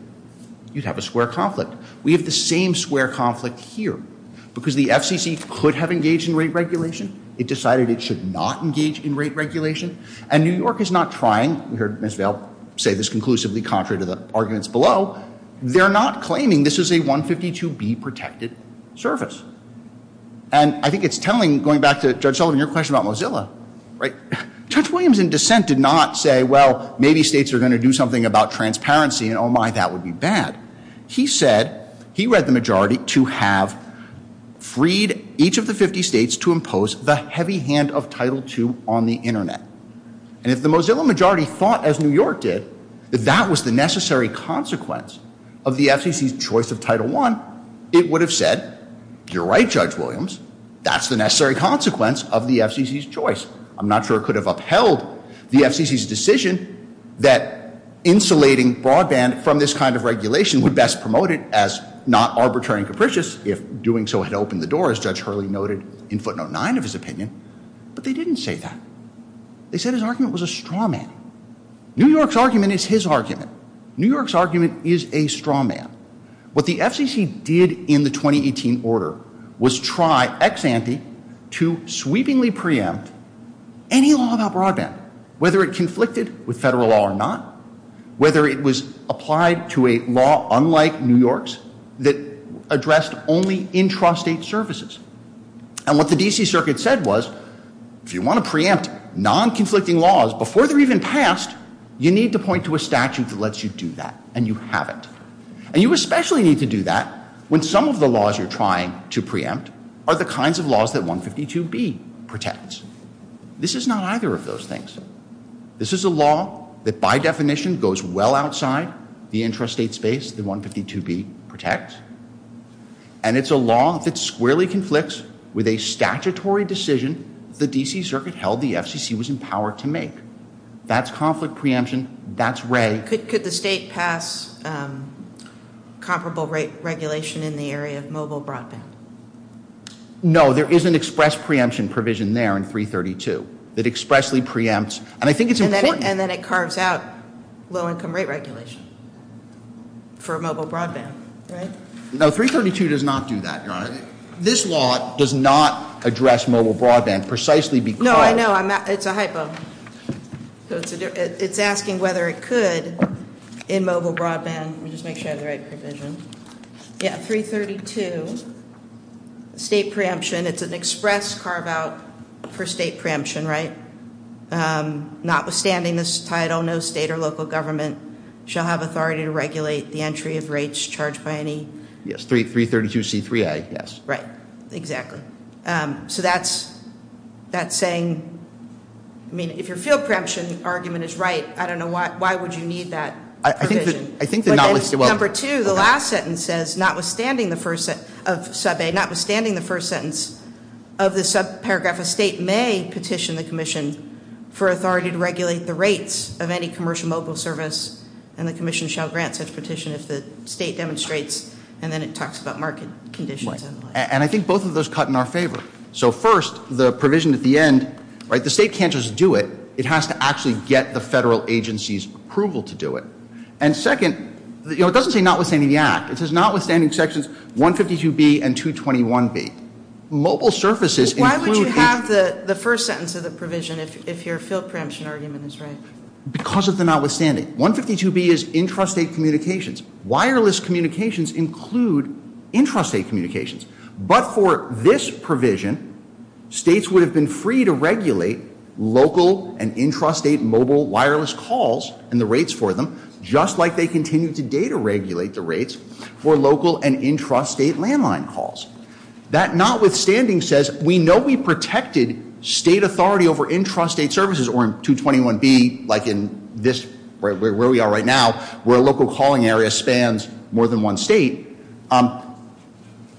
you'd have a square conflict. We have the same square conflict here because the FCC could have engaged in rate regulation. It decided it should not engage in rate regulation and New York is not trying, we heard Ms. Vail say this conclusively contrary to the arguments below, they're not claiming this is a 152B protected service and I think it's telling, going back to Judge Sullivan, your question about Mozilla, right? Judge Williams in dissent did not say, well, maybe states are gonna do something about transparency and oh my, that would be bad. He said, he read the majority to have freed each of the 50 states to impose the heavy hand of Title II on the internet and if the Mozilla majority thought as New York did that that was the necessary consequence of the FCC's choice of Title I, it would have said, you're right, Judge Williams, that's the necessary consequence of the FCC's choice. I'm not sure it could have upheld the FCC's decision that insulating broadband from this kind of regulation would best promote it as not arbitrary and capricious if doing so had opened the door, as Judge Hurley noted in footnote nine of his opinion, but they didn't say that. They said his argument was a straw man. New York's argument is his argument. New York's argument is a straw man. What the FCC did in the 2018 order was try ex ante to sweepingly preempt any law about broadband, whether it conflicted with federal law or not, whether it was applied to a law unlike New York's that addressed only intrastate services. And what the D.C. Circuit said was if you want to preempt non-conflicting laws before they're even passed, you need to point to a statute that lets you do that, and you haven't. And you especially need to do that when some of the laws you're trying to preempt are the kinds of laws that 152B protects. This is not either of those things. This is a law that by definition goes well outside the intrastate space that 152B protects, and it's a law that squarely conflicts with a statutory decision the D.C. Circuit held the FCC was empowered to make. That's conflict preemption. That's ready. Could the state pass comparable regulation in the area of mobile broadband? No, there is an express preemption provision there in 332 that expressly preempts, and I think it's important... And then it carves out low-income rate regulation for mobile broadband, right? No, 332 does not do that, Donna. This law does not address mobile broadband precisely because... No, I know. It's a hypo. It's asking whether it could in mobile broadband. Let me just make sure I have the right provision. Yeah, 332, state preemption. It's an express carve-out for state preemption, right? Notwithstanding this title, no state or local government shall have authority to regulate the entry of rates charged by any... Yes, 332C3A, yes. Right, exactly. So that's saying... I mean, if your field preemption argument is right, I don't know why would you need that provision. I think the... Number two, the last sentence says, notwithstanding the first sentence of the subparagraph, a state may petition the commission for authority to regulate the rates of any commercial mobile service, and the commission shall grant such petition as the state demonstrates. And then it talks about market conditions. And I think both of those cut in our favor. So first, the provision at the end, right? The state can't just do it. It has to actually get the federal agency's approval to do it. And second, you know, it doesn't say notwithstanding the act. It does notwithstanding sections 152B and 221B. Local services... Why would you have the first sentence of the provision if your field preemption argument is right? Because of the notwithstanding. 152B is intrastate communications. Wireless communications include intrastate communications. But for this provision, states would have been free to regulate local and intrastate mobile wireless calls and the rates for them, just like they continue today to regulate the rates for local and intrastate landline calls. That notwithstanding says, we know we protected state authority over intrastate services, or in 221B, like in this, where we are right now, where a local calling area spans more than one state.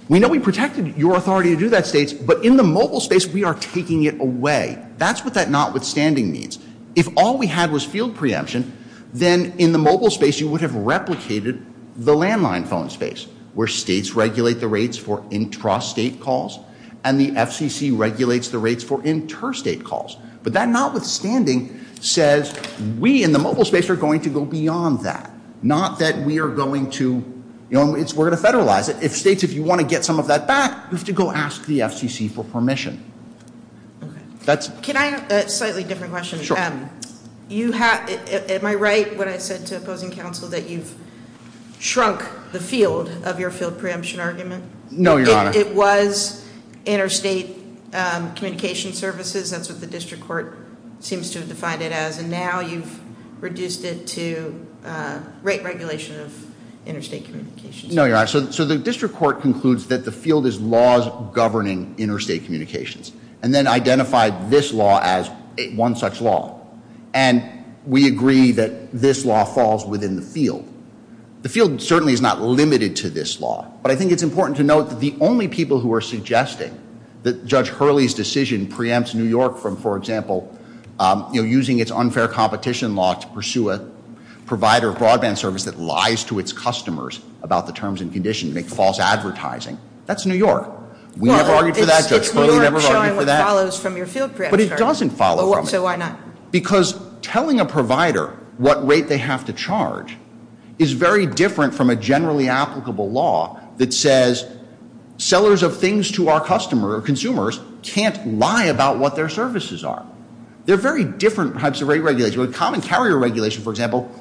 We know we protected your authority to do that, states, but in the mobile space, we are taking it away. That's what that notwithstanding means. If all we had was field preemption, then in the mobile space, you would have replicated the landline phone space, where states regulate the rates for intrastate calls, and the FCC regulates the rates for intrastate calls. But that notwithstanding says, we in the mobile space are going to go beyond that. Not that we are going to... We're going to federalize it. States, if you want to get some of that back, you have to go ask the FCC for permission. Can I ask a slightly different question? Sure. You have... Am I right when I said to opposing counsel that you've shrunk the field of your field preemption argument? No, Your Honor. It was intrastate communication services. That's what the district court seems to have defined it as, and now you've reduced it to rate regulation of intrastate communications. No, Your Honor. So the district court concludes that the field is laws governing intrastate communications, and then identified this law as one such law. And we agree that this law falls within the field. The field certainly is not limited to this law, but I think it's important to note that the only people who are suggesting that Judge Hurley's decision preempts New York from, for example, you know, using its unfair competition law to pursue a provider broadband service make false advertising, that's New York. We never argued for that. Judge Hurley never argued for that. But it doesn't follow from it. So why not? Because telling a provider what rate they have to charge is very different from a generally applicable law that says sellers of things to our customer or consumers can't lie about what their services are. They're very different types of rate regulation. Common carrier regulation, for example...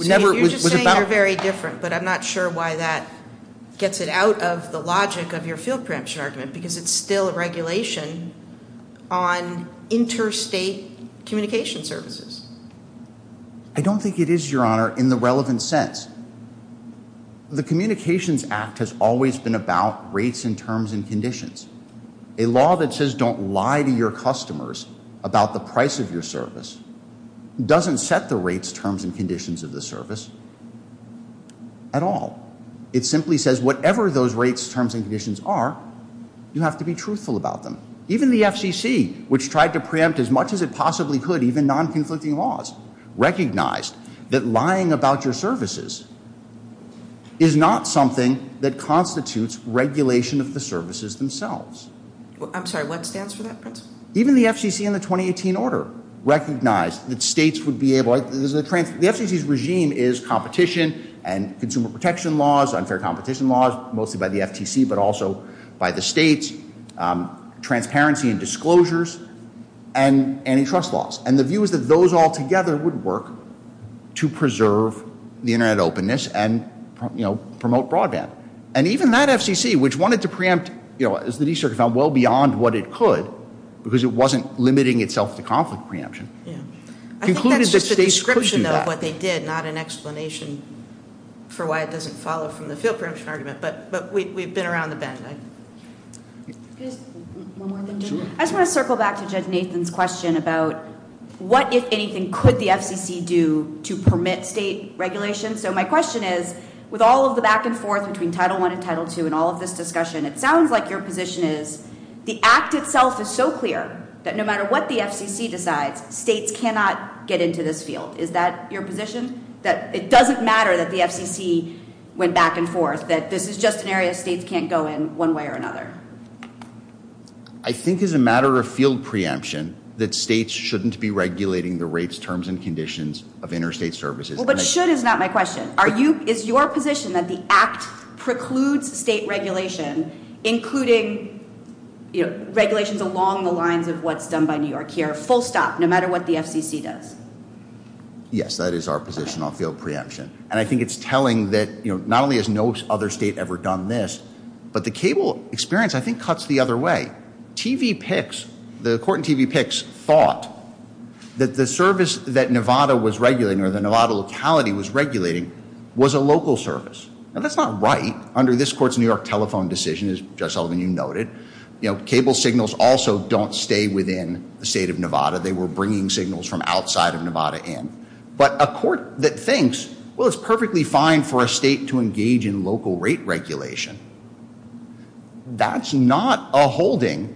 You're just saying they're very different, but I'm not sure why that gets it out of the logic of your field preemption argument, because it's still a regulation on interstate communication services. I don't think it is, Your Honour, in the relevant sense. The Communications Act has always been about rates and terms and conditions. A law that says don't lie to your customers about the price of your service doesn't set the rates, terms and conditions of the service... at all. It simply says whatever those rates, terms and conditions are, you have to be truthful about them. Even the FCC, which tried to preempt as much as it possibly could, even non-conflicting laws, recognized that lying about your services is not something that constitutes regulation of the services themselves. I'm sorry, what stands for that principle? Even the FCC in the 2018 order recognized that states would be able... The FCC's regime is competition and consumer protection laws, unfair competition laws, mostly by the FCC, but also by the states, transparency and disclosures, and antitrust laws. And the view is that those all together would work to preserve the Internet openness and promote broadband. And even that FCC, which wanted to preempt, as Denise has found, well beyond what it could, because it wasn't limiting itself to conflict preemption, I think that's just a description of what they did, not an explanation for why it doesn't follow from the preemption argument, but we've been around the bend. I just want to circle back to Judge Nathan's question about what, if anything, could the FCC do to permit state regulation. So my question is, with all of the back and forth between Title I and Title II and all of this discussion, it sounds like your position is the act itself is so clear that no matter what the FCC decides, states cannot get into this field. Is that your position, that it doesn't matter that the FCC went back and forth, that this is just an area states can't go in one way or another? I think it's a matter of field preemption that states shouldn't be regulating the rates, terms, and conditions of interstate services. Well, but should is not my question. Is your position that the act precludes state regulation, including regulations along the lines of what's done by New York here, full stop, no matter what the FCC does? Yes, that is our position on field preemption. And I think it's telling that not only has no other state ever done this, but the cable experience, I think, cuts the other way. TVPICS, the court in TVPICS, thought that the service that Nevada was regulating or the Nevada locality was regulating was a local service. Well, that's not right under this court's New York telephone decision, as Judge Sullivan, you noted. Cable signals also don't stay within the state of Nevada. They were bringing signals from outside of Nevada in. But a court that thinks, well, it's perfectly fine for a state to engage in local rate regulation, that's not a holding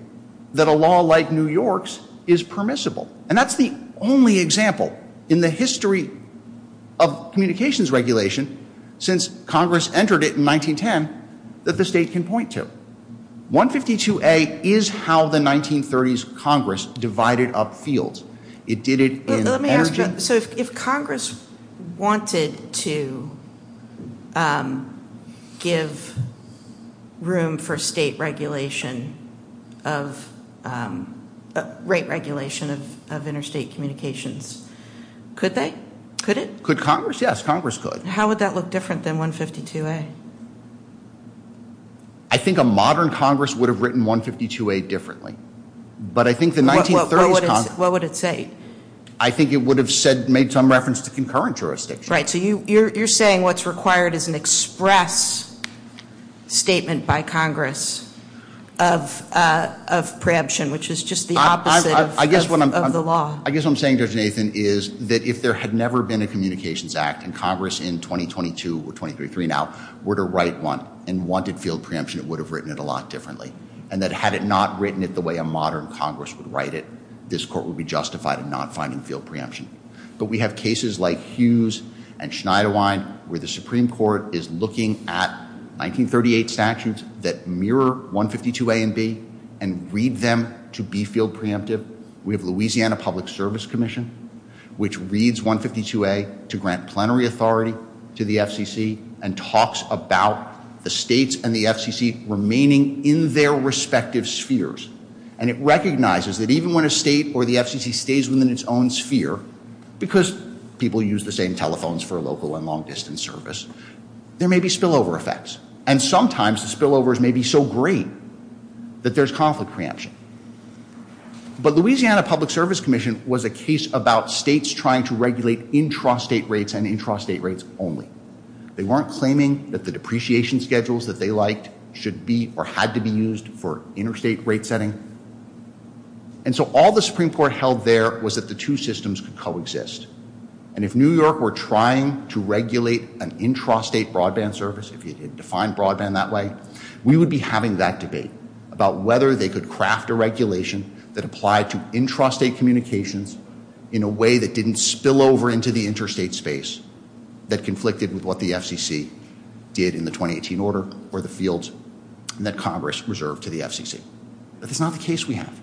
that a law like New York's is permissible. And that's the only example in the history of communications regulation since Congress entered it in 1910 that the state can point to. 152A is how the 1930s Congress divided up fields. It did it in energy... So if Congress wanted to give room for state regulation of rate regulation of interstate communications, could they? Could it? Could Congress? Yes, Congress could. How would that look different than 152A? I think a modern Congress would have written 152A differently. But I think the 1930s Congress... What would it say? I think it would have made some reference to concurrent jurisdiction. Right, so you're saying what's required is an express statement by Congress of preemption, which is just the opposite of the law. I guess what I'm saying there, Nathan, is that if there had never been a Communications Act and Congress in 2022 or 2033 now were to write one and wanted field preemption, it would have written it a lot differently. And that had it not written it the way a modern Congress would write it, this court would be justified in not finding field preemption. But we have cases like Hughes and Schneiderwine where the Supreme Court is looking at 1938 statutes that mirror 152A and B and read them to be field preemptive. We have Louisiana Public Service Commission, which reads 152A to grant plenary authority to the FCC and talks about the states and the FCC remaining in their respective spheres. And it recognizes that even when a state or the FCC stays within its own sphere, because people use the same telephones for local and long-distance service, there may be spillover effects. And sometimes the spillovers may be so great that there's conflict preemption. But Louisiana Public Service Commission was a case about states trying to regulate intrastate rates and intrastate rates only. They weren't claiming that the depreciation schedules that they liked should be or had to be used for interstate rate setting. And so all the Supreme Court held there was that the two systems could coexist. And if New York were trying to regulate an intrastate broadband service, if you could define broadband that way, we would be having that debate about whether they could craft a regulation that applied to intrastate communications in a way that didn't spill over into the interstate space that conflicted with what the FCC did in the 2018 order or the fields that Congress reserved to the FCC. But that's not the case we have.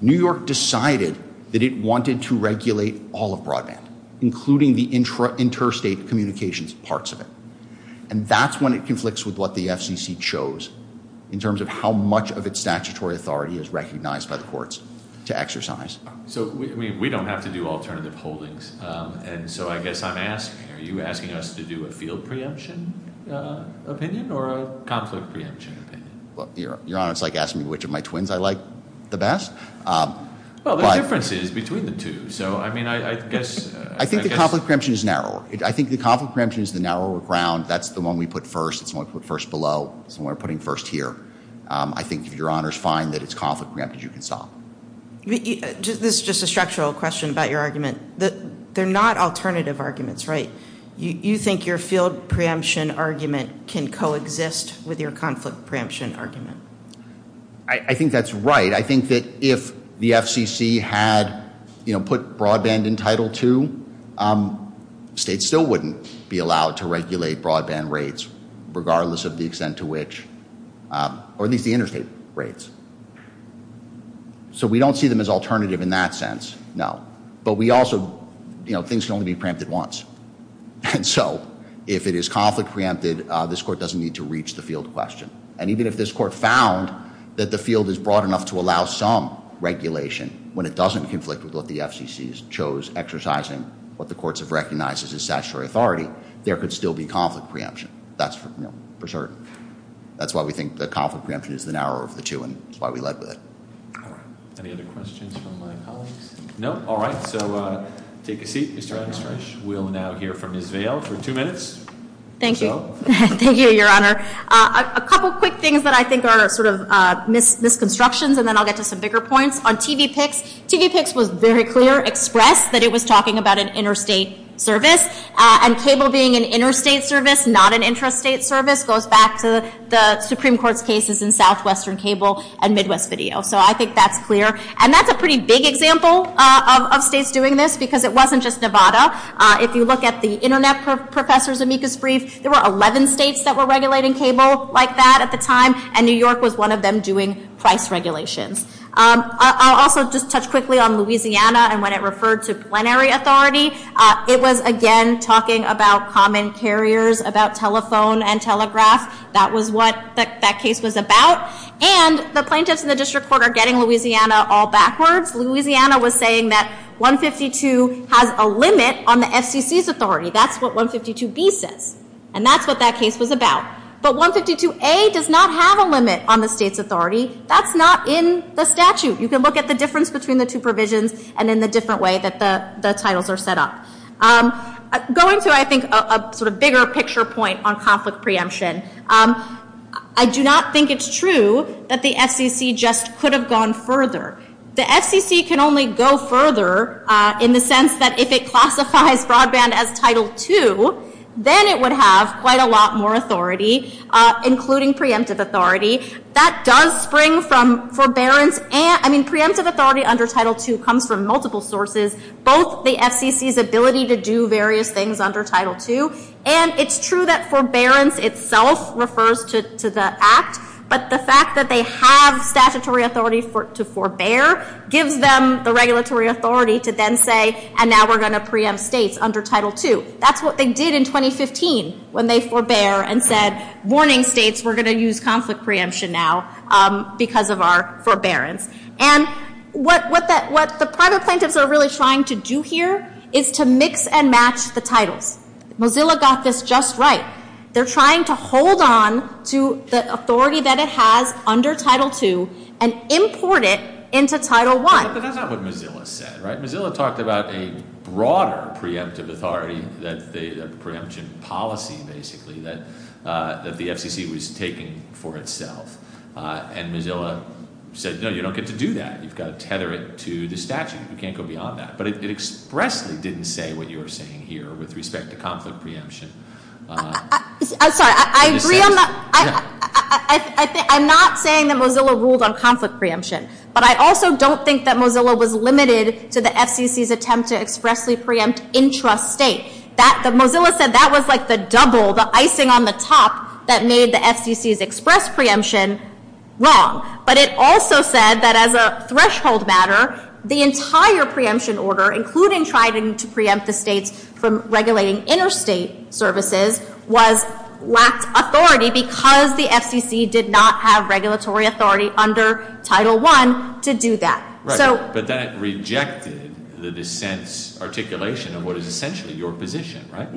New York decided that it wanted to regulate all of broadband, including the interstate communications parts of it. And that's when it conflicts with what the FCC chose in terms of how much of its statutory authority is recognized by the courts to exercise. So we don't have to do alternative holdings. And so I guess I'm asking, are you asking us to do a field preemption opinion or a conflict preemption opinion? Well, Your Honor, it's like asking me which of my twins I like the best. Well, there are differences between the two. So, I mean, I guess... I think the conflict preemption is narrower. I think the conflict preemption is the narrower ground. That's the one we put first. It's the one we put first below. It's the one we're putting first here. I think, Your Honor, it's fine that it's conflict preemption you can solve. This is just a structural question about your argument. They're not alternative arguments, right? You think your field preemption argument can coexist with your conflict preemption argument? I think that's right. I think that if the FCC had put broadband in Title II, states still wouldn't be allowed to regulate broadband rates regardless of the extent to which... Or at least the interstate rates. So we don't see them as alternative in that sense, no. But we also... You know, things can only be preempted once. And so, if it is conflict preempted, this Court doesn't need to reach the field question. And even if this Court found that the field is broad enough to allow some regulation when it doesn't conflict with what the FCC chose, exercising what the courts have recognized as its statutory authority, there could still be conflict preemption. That's for certain. That's why we think that conflict preemption is the narrow of the two, and that's why we led with it. Any other questions from my colleagues? No? All right. So take a seat, Mr. Armstrong. We'll now hear from Ms. Vail for two minutes. Thank you. Thank you, Your Honor. A couple quick things that I think are sort of misconstructions, and then I'll get to some bigger points. On TVPICS, TVPICS was very clear, expressed, that it was talking about an interstate service. And cable being an interstate service, not an intrastate service, goes back to the Supreme Court's cases in Southwestern Cable and Midwest Video. So I think that's clear. And that's a pretty big example of states doing this, because it wasn't just Nevada. If you look at the Internet for Professors amicus brief, there were 11 states that were regulating cable like that at the time, and New York was one of them doing twice regulation. I'll also just touch quickly on Louisiana and when it referred to plenary authority. It was, again, talking about common carriers, about telephone and telegraph. That was what that case was about. And the plaintiffs in the district court are getting Louisiana all backwards. Louisiana was saying that 152 has a limit on the FCC's authority. That's what 152B says. And that's what that case was about. But 152A does not have a limit on the state's authority. That's not in the statute. You can look at the difference between the two provisions and in the different way that the titles are set up. Going to, I think, a bigger picture point on conflict preemption, I do not think it's true that the FCC just could have gone further. The FCC can only go further in the sense that if it classifies broadband as Title II, then it would have quite a lot more authority, including preemptive authority. That does spring from forbearance. I mean, preemptive authority under Title II comes from multiple sources. Both the FCC's ability to do various things under Title II, and it's true that forbearance itself refers to the act, but the fact that they have statutory authority to forbear gives them the regulatory authority to then say, and now we're going to preempt states under Title II. That's what they did in 2015 when they forbear and said, warning states, we're going to use conflict preemption now because of our forbearance. And what the private plaintiffs are really trying to do here is to mix and match the titles. Mozilla got this just right. They're trying to hold on to the authority that it has under Title II and import it into Title I. So that's what Mozilla said, right? Mozilla talked about a broader preemptive authority, the preemption policy, basically, that the FCC was taking for itself. And Mozilla said, no, you don't get to do that. You've got to tether it to the statute. You can't go beyond that. But it expressly didn't say what you're saying here with respect to conflict preemption. I'm sorry. I agree on that. I'm not saying that Mozilla ruled on conflict preemption, but I also don't think that Mozilla was limited to the FCC's attempt to expressly preempt intrastate. Mozilla said that was like the double, the icing on the top that made the FCC's express preemption wrong. But it also said that as a threshold matter, the entire preemption order, including trying to preempt the states from regulating interstate services, lacked authority because the FCC did not have regulatory authority under Title I to do that. But that rejected the dissent's articulation of what is essentially your position, right?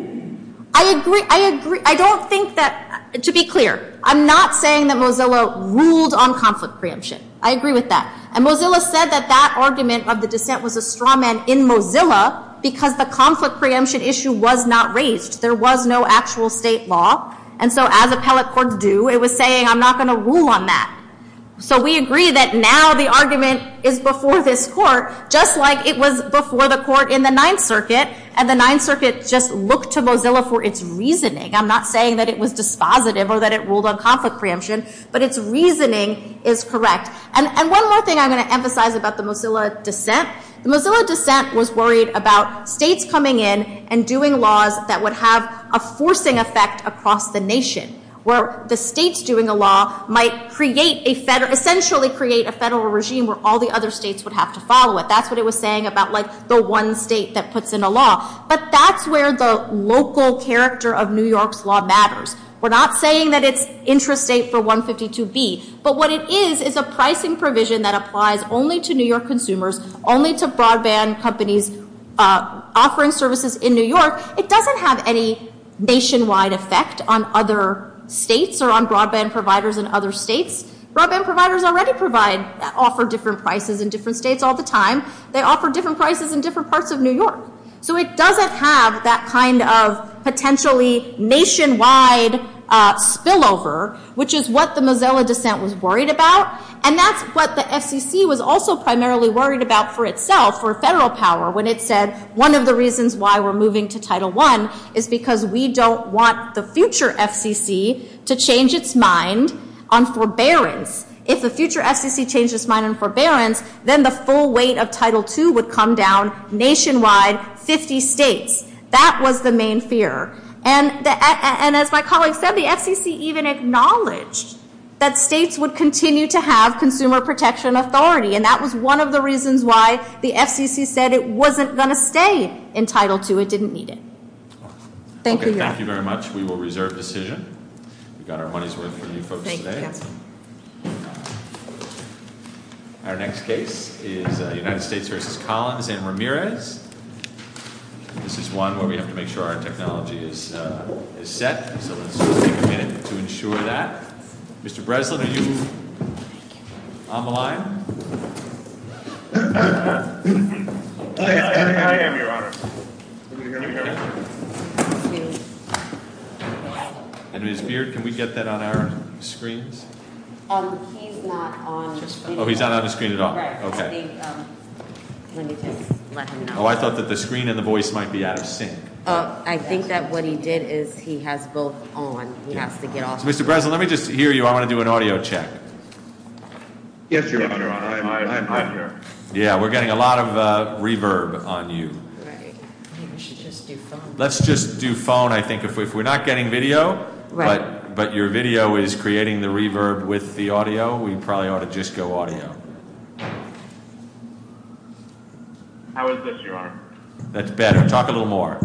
I agree. I don't think that, to be clear, I'm not saying that Mozilla ruled on conflict preemption. I agree with that. And Mozilla said that that argument of the dissent was a straw man in Mozilla because the conflict preemption issue was not raised. There was no actual state law. And so as appellate court do, it was saying, I'm not going to rule on that. So we agree that now the argument is before this court, just like it was before the court in the Ninth Circuit. And the Ninth Circuit just looked to Mozilla for its reasoning. I'm not saying that it was dispositive or that it ruled on conflict preemption. But its reasoning is correct. And one more thing I'm going to emphasize about the Mozilla dissent. The Mozilla dissent was worried about states coming in and doing laws that would have a forcing effect across the nation, where the states doing a law might essentially create a federal regime where all the other states would have to follow it. That's what it was saying about the one state that puts in a law. But that's where the local character of New York's law matters. We're not saying that it's interstate for 152B. But what it is, it's a pricing provision that applies only to New York consumers, only to broadband companies offering services in New York. It doesn't have any nationwide effect on other states or on broadband providers in other states. Broadband providers already provide, offer different prices in different states all the time. They offer different prices in different parts of New York. So it doesn't have that kind of potentially nationwide spillover, which is what the Mozilla dissent was worried about. And that's what the FCC was also primarily worried about for itself, for federal power, when it said one of the reasons why we're moving to Title I is because we don't want the future FCC to change its mind on forbearance. If the future FCC changed its mind on forbearance, then the full weight of Title II would come down nationwide by 50 states. That was the main fear. And as my colleague said, the FCC even acknowledged that states would continue to have consumer protection authority. And that was one of the reasons why the FCC said it wasn't going to stay in Title II. It didn't need it. Thank you, Jeff. Thank you very much. We got our money's worth from you folks today. Thank you, Jeff. Our next case is the United States versus Collins and Ramirez. This is one where we have to make sure our technology is set so that we can get it to ensure that. Mr. Breslin, are you on the line? And Ms. Beard, can we get that on our screens? He's not on the screen. Oh, he's not on the screen at all. Oh, I thought that the screen and the voice might be out of sync. I think that what he did is he has both on. Mr. Breslin, let me just hear you. I want to do an audio check. Yeah, we're getting a lot of reverb on you. Let's just do phone, I think. We're not getting video, but your video is creating the reverb with the audio. We probably ought to just go audio. How is this, Your Honor? That's better. Talk a little more.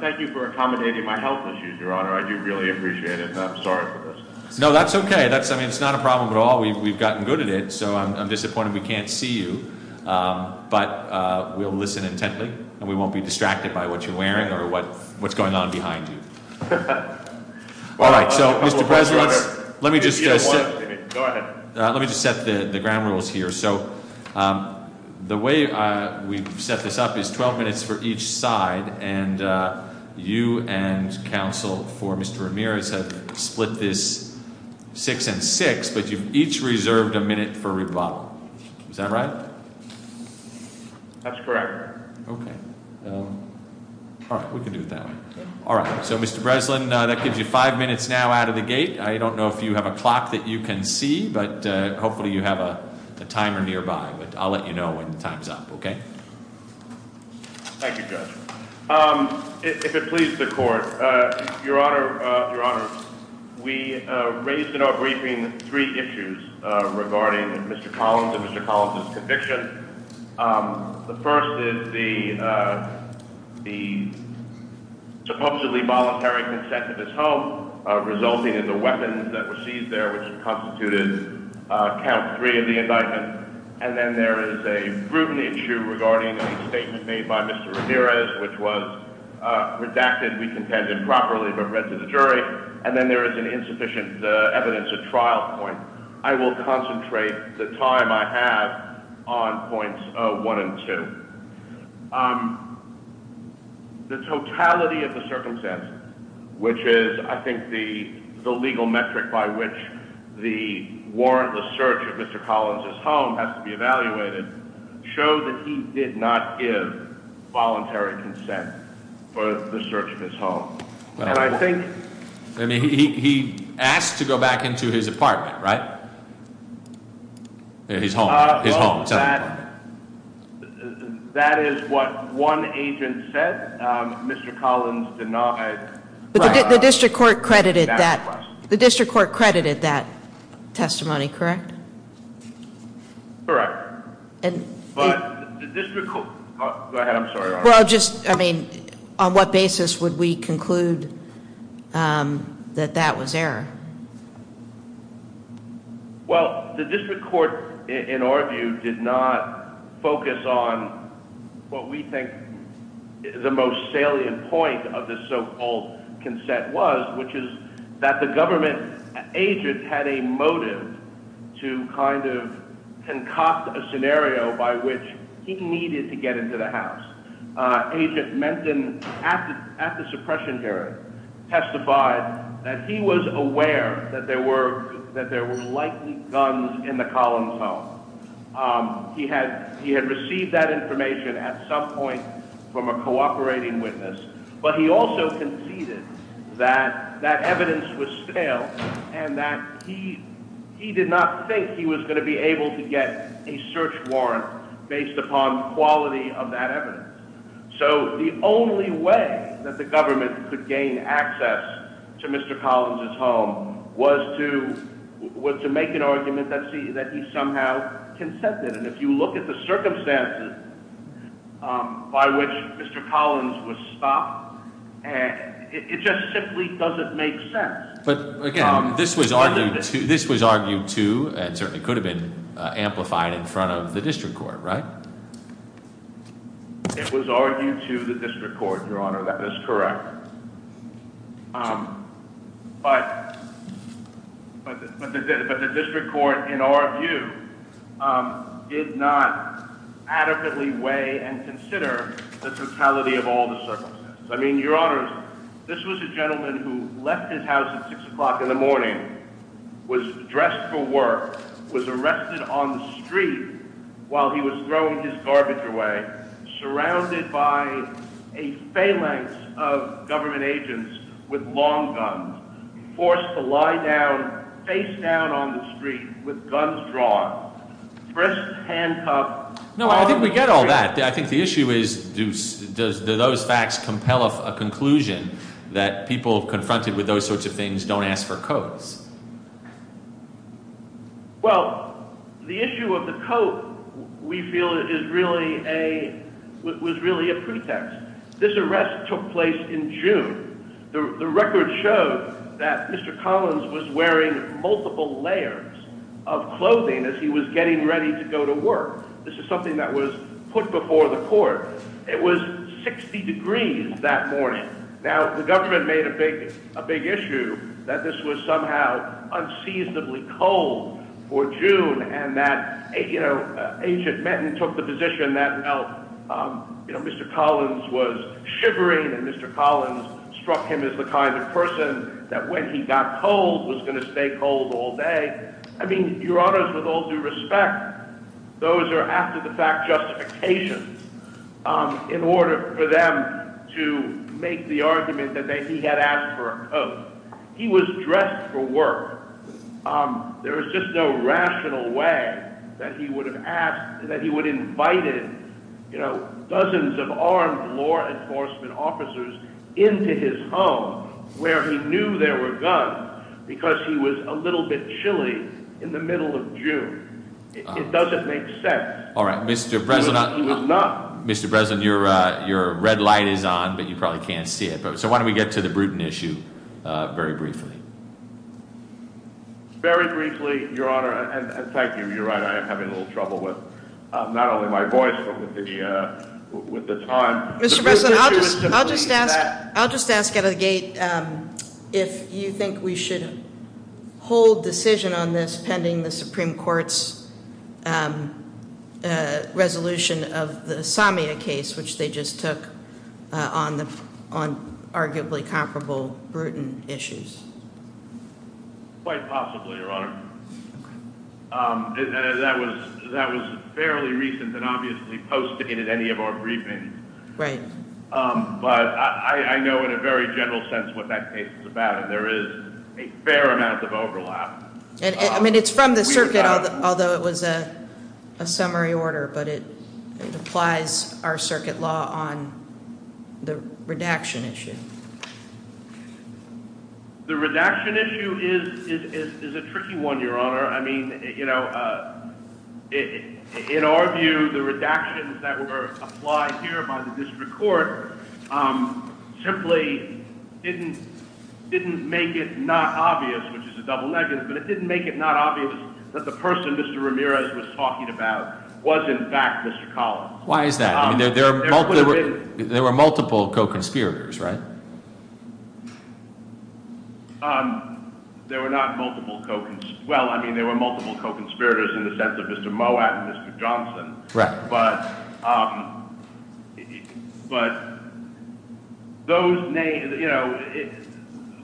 Thank you for accommodating my health issues, Your Honor. I do really appreciate it. I'm sorry for this. No, that's okay. It's not a problem at all. We've gotten good at it, so I'm disappointed we can't see you, but we'll listen attentively and we won't be distracted by what you're wearing or what's going on behind you. Mr. Breslin, let me just set the ground rules here. The way we set this up is 12 minutes for each side, and you and counsel for Mr. Ramirez have split this six and six, but you've each reserved a minute for rebuttal. Is that right? That's correct. Okay. We can do that. All right. So, Mr. Breslin, that gives you five minutes now out of the gate. I don't know if you have a clock that you can see, but hopefully you have a timer nearby. I'll let you know when the time's up, okay? Thank you, Judge. If it pleases the Court, Your Honor, we raised in our briefing three issues regarding Mr. Collins and Mr. Collins' conviction. The first is the supposedly voluntary consent of his home resulting in the weapons that were seized there, which constituted count three of the indictment. And then there is a group issue regarding the statement made by Mr. Ramirez, which was redacted, recontended properly, but read to the jury. And then there is an insufficient evidence at trial point. I will concentrate the time I have on points one and two. The totality of the circumstances, which is, I think, the legal metric by which the warrantless search of Mr. Collins' home has to be evaluated, shows that he did not give voluntary consent for the search of his home. And I think... We'll go back into his apartment, right? His home. That is what one agent said. Mr. Collins did not... The District Court credited that... The District Court credited that testimony, correct? Correct. Go ahead, I'm sorry. Well, just, I mean, on what basis would we conclude that that was error? Well, the District Court, in our view, did not focus on what we think the most salient point of the so-called consent was, which is that the government agent had a motive to kind of concoct a scenario by which he needed to get into the house. Agent Menden, at the suppression hearing, testified that he was aware that there were likely guns in the Collins' home. He had received that information at some point from a cooperating witness, but he also conceded that that evidence was stale and that he did not think he was going to be able to get a search warrant based upon quality of that evidence. So the only way that the government could gain access to Mr. Collins' home was to make an argument that he somehow consented. And if you look at the circumstances by which Mr. Collins was stopped, it just simply doesn't make sense. But, again, this was argued to, and certainly could have been amplified in front of the District Court, right? It was argued to the District Court, Your Honor. That is correct. But the District Court, in our view, did not adequately weigh and consider the totality of all the circumstances. I mean, Your Honor, this was a gentleman who left his house at 6 o'clock in the morning, was dressed for work, was arrested on the street while he was throwing his garbage away, surrounded by a phalanx of government agents with long guns, forced to lie down face-down on the street with guns drawn, dressed to handcuff... No, I think we get all that. I think the issue is, do those facts compel a conclusion that people confronted with those sorts of things don't ask for codes? Well, the issue of the code, we feel, was really a pretext. This arrest took place in June. The record showed that Mr. Collins was wearing multiple layers of clothing as he was getting ready to go to work. This is something that was put before the court. It was 60 degrees that morning. Now, the government made a big issue that this was somehow unseasonably cold for June and that ancient men took the position that Mr. Collins was shivering and Mr. Collins struck him as the kind of person that when he got cold was going to stay cold all day. I mean, Your Honors, with all due respect, those are after-the-fact justifications in order for them to make the argument that he had asked for a code. He was dressed for work. There was just no rational way that he would have asked, that he would have invited, you know, dozens of armed law enforcement officers into his home where he knew there were guns because he was a little bit chilly in the middle of June. It doesn't make sense. Mr. Breslin, your red light is on, but you probably can't see it. So why don't we get to the Bruton issue very briefly. Very briefly, Your Honor. In fact, you're right. I am having a little trouble with not only my voice but with the time. Mr. Breslin, I'll just ask out of the gate if you think we should hold decision on this sending the Supreme Court's resolution of the Samia case, which they just took, on arguably comparable Bruton issues. Quite possibly, Your Honor. That was fairly recent and obviously posted in any of our briefings. Right. But I know in a very general sense what that case is about, and there is a fair amount of overlap. I mean, it's from the circuit, although it was a summary order, but it applies our circuit law on the redaction issue. The redaction issue is a tricky one, Your Honor. I mean, in our view, the redactions that were applied here by the district court simply didn't make it not obvious, which is a double-edged sword, but it didn't make it not obvious that the person Mr. Ramirez was talking about was in fact Mr. Collins. Why is that? There were multiple co-conspirators, right? There were not multiple co-conspirators. Well, I mean, there were multiple co-conspirators in the sense of Mr. Moab and Mr. Johnson. Correct. But those names, you know,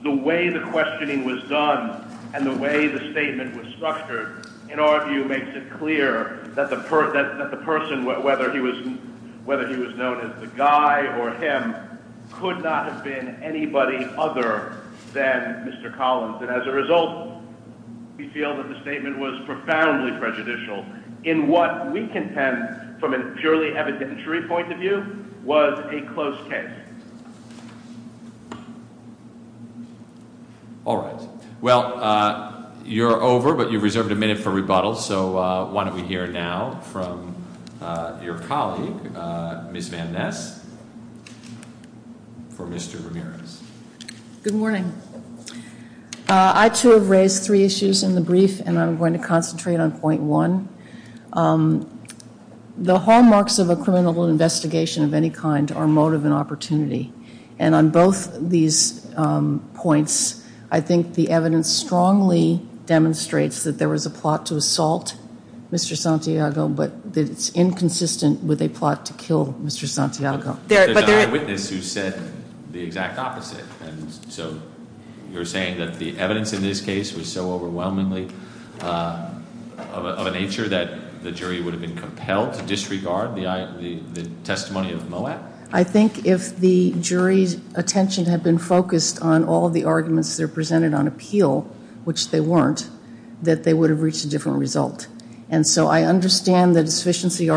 the way the questioning was done and the way the statement was structured, in our view, makes it clear that the person, whether he was known as the guy or him, could not have been anybody other than Mr. Collins. And as a result, we feel that the statement was profoundly prejudicial in what we contend, from a purely evidentiary point of view, was a close case. All right. Well, you're over, but you've reserved a minute for rebuttal, so why don't we hear now from your colleague, Ms. Van Ness, for Mr. Ramirez. Good morning. I, too, have raised three issues in the brief, and I'm going to concentrate on point one. The hallmarks of a criminal investigation of any kind are motive and opportunity, and on both these points, I think the evidence strongly demonstrates that there was a plot to assault Mr. Santiago, but it's inconsistent with a plot to kill Mr. Santiago. But there's an eyewitness who said the exact opposite, and so you're saying that the evidence in this case was so overwhelmingly of a nature that the jury would have been compelled to disregard the testimony of Moab? I think if the jury's attention had been focused on all the arguments that are presented on appeal, which they weren't, that they would have reached a different result. And so I understand the deficiency argument.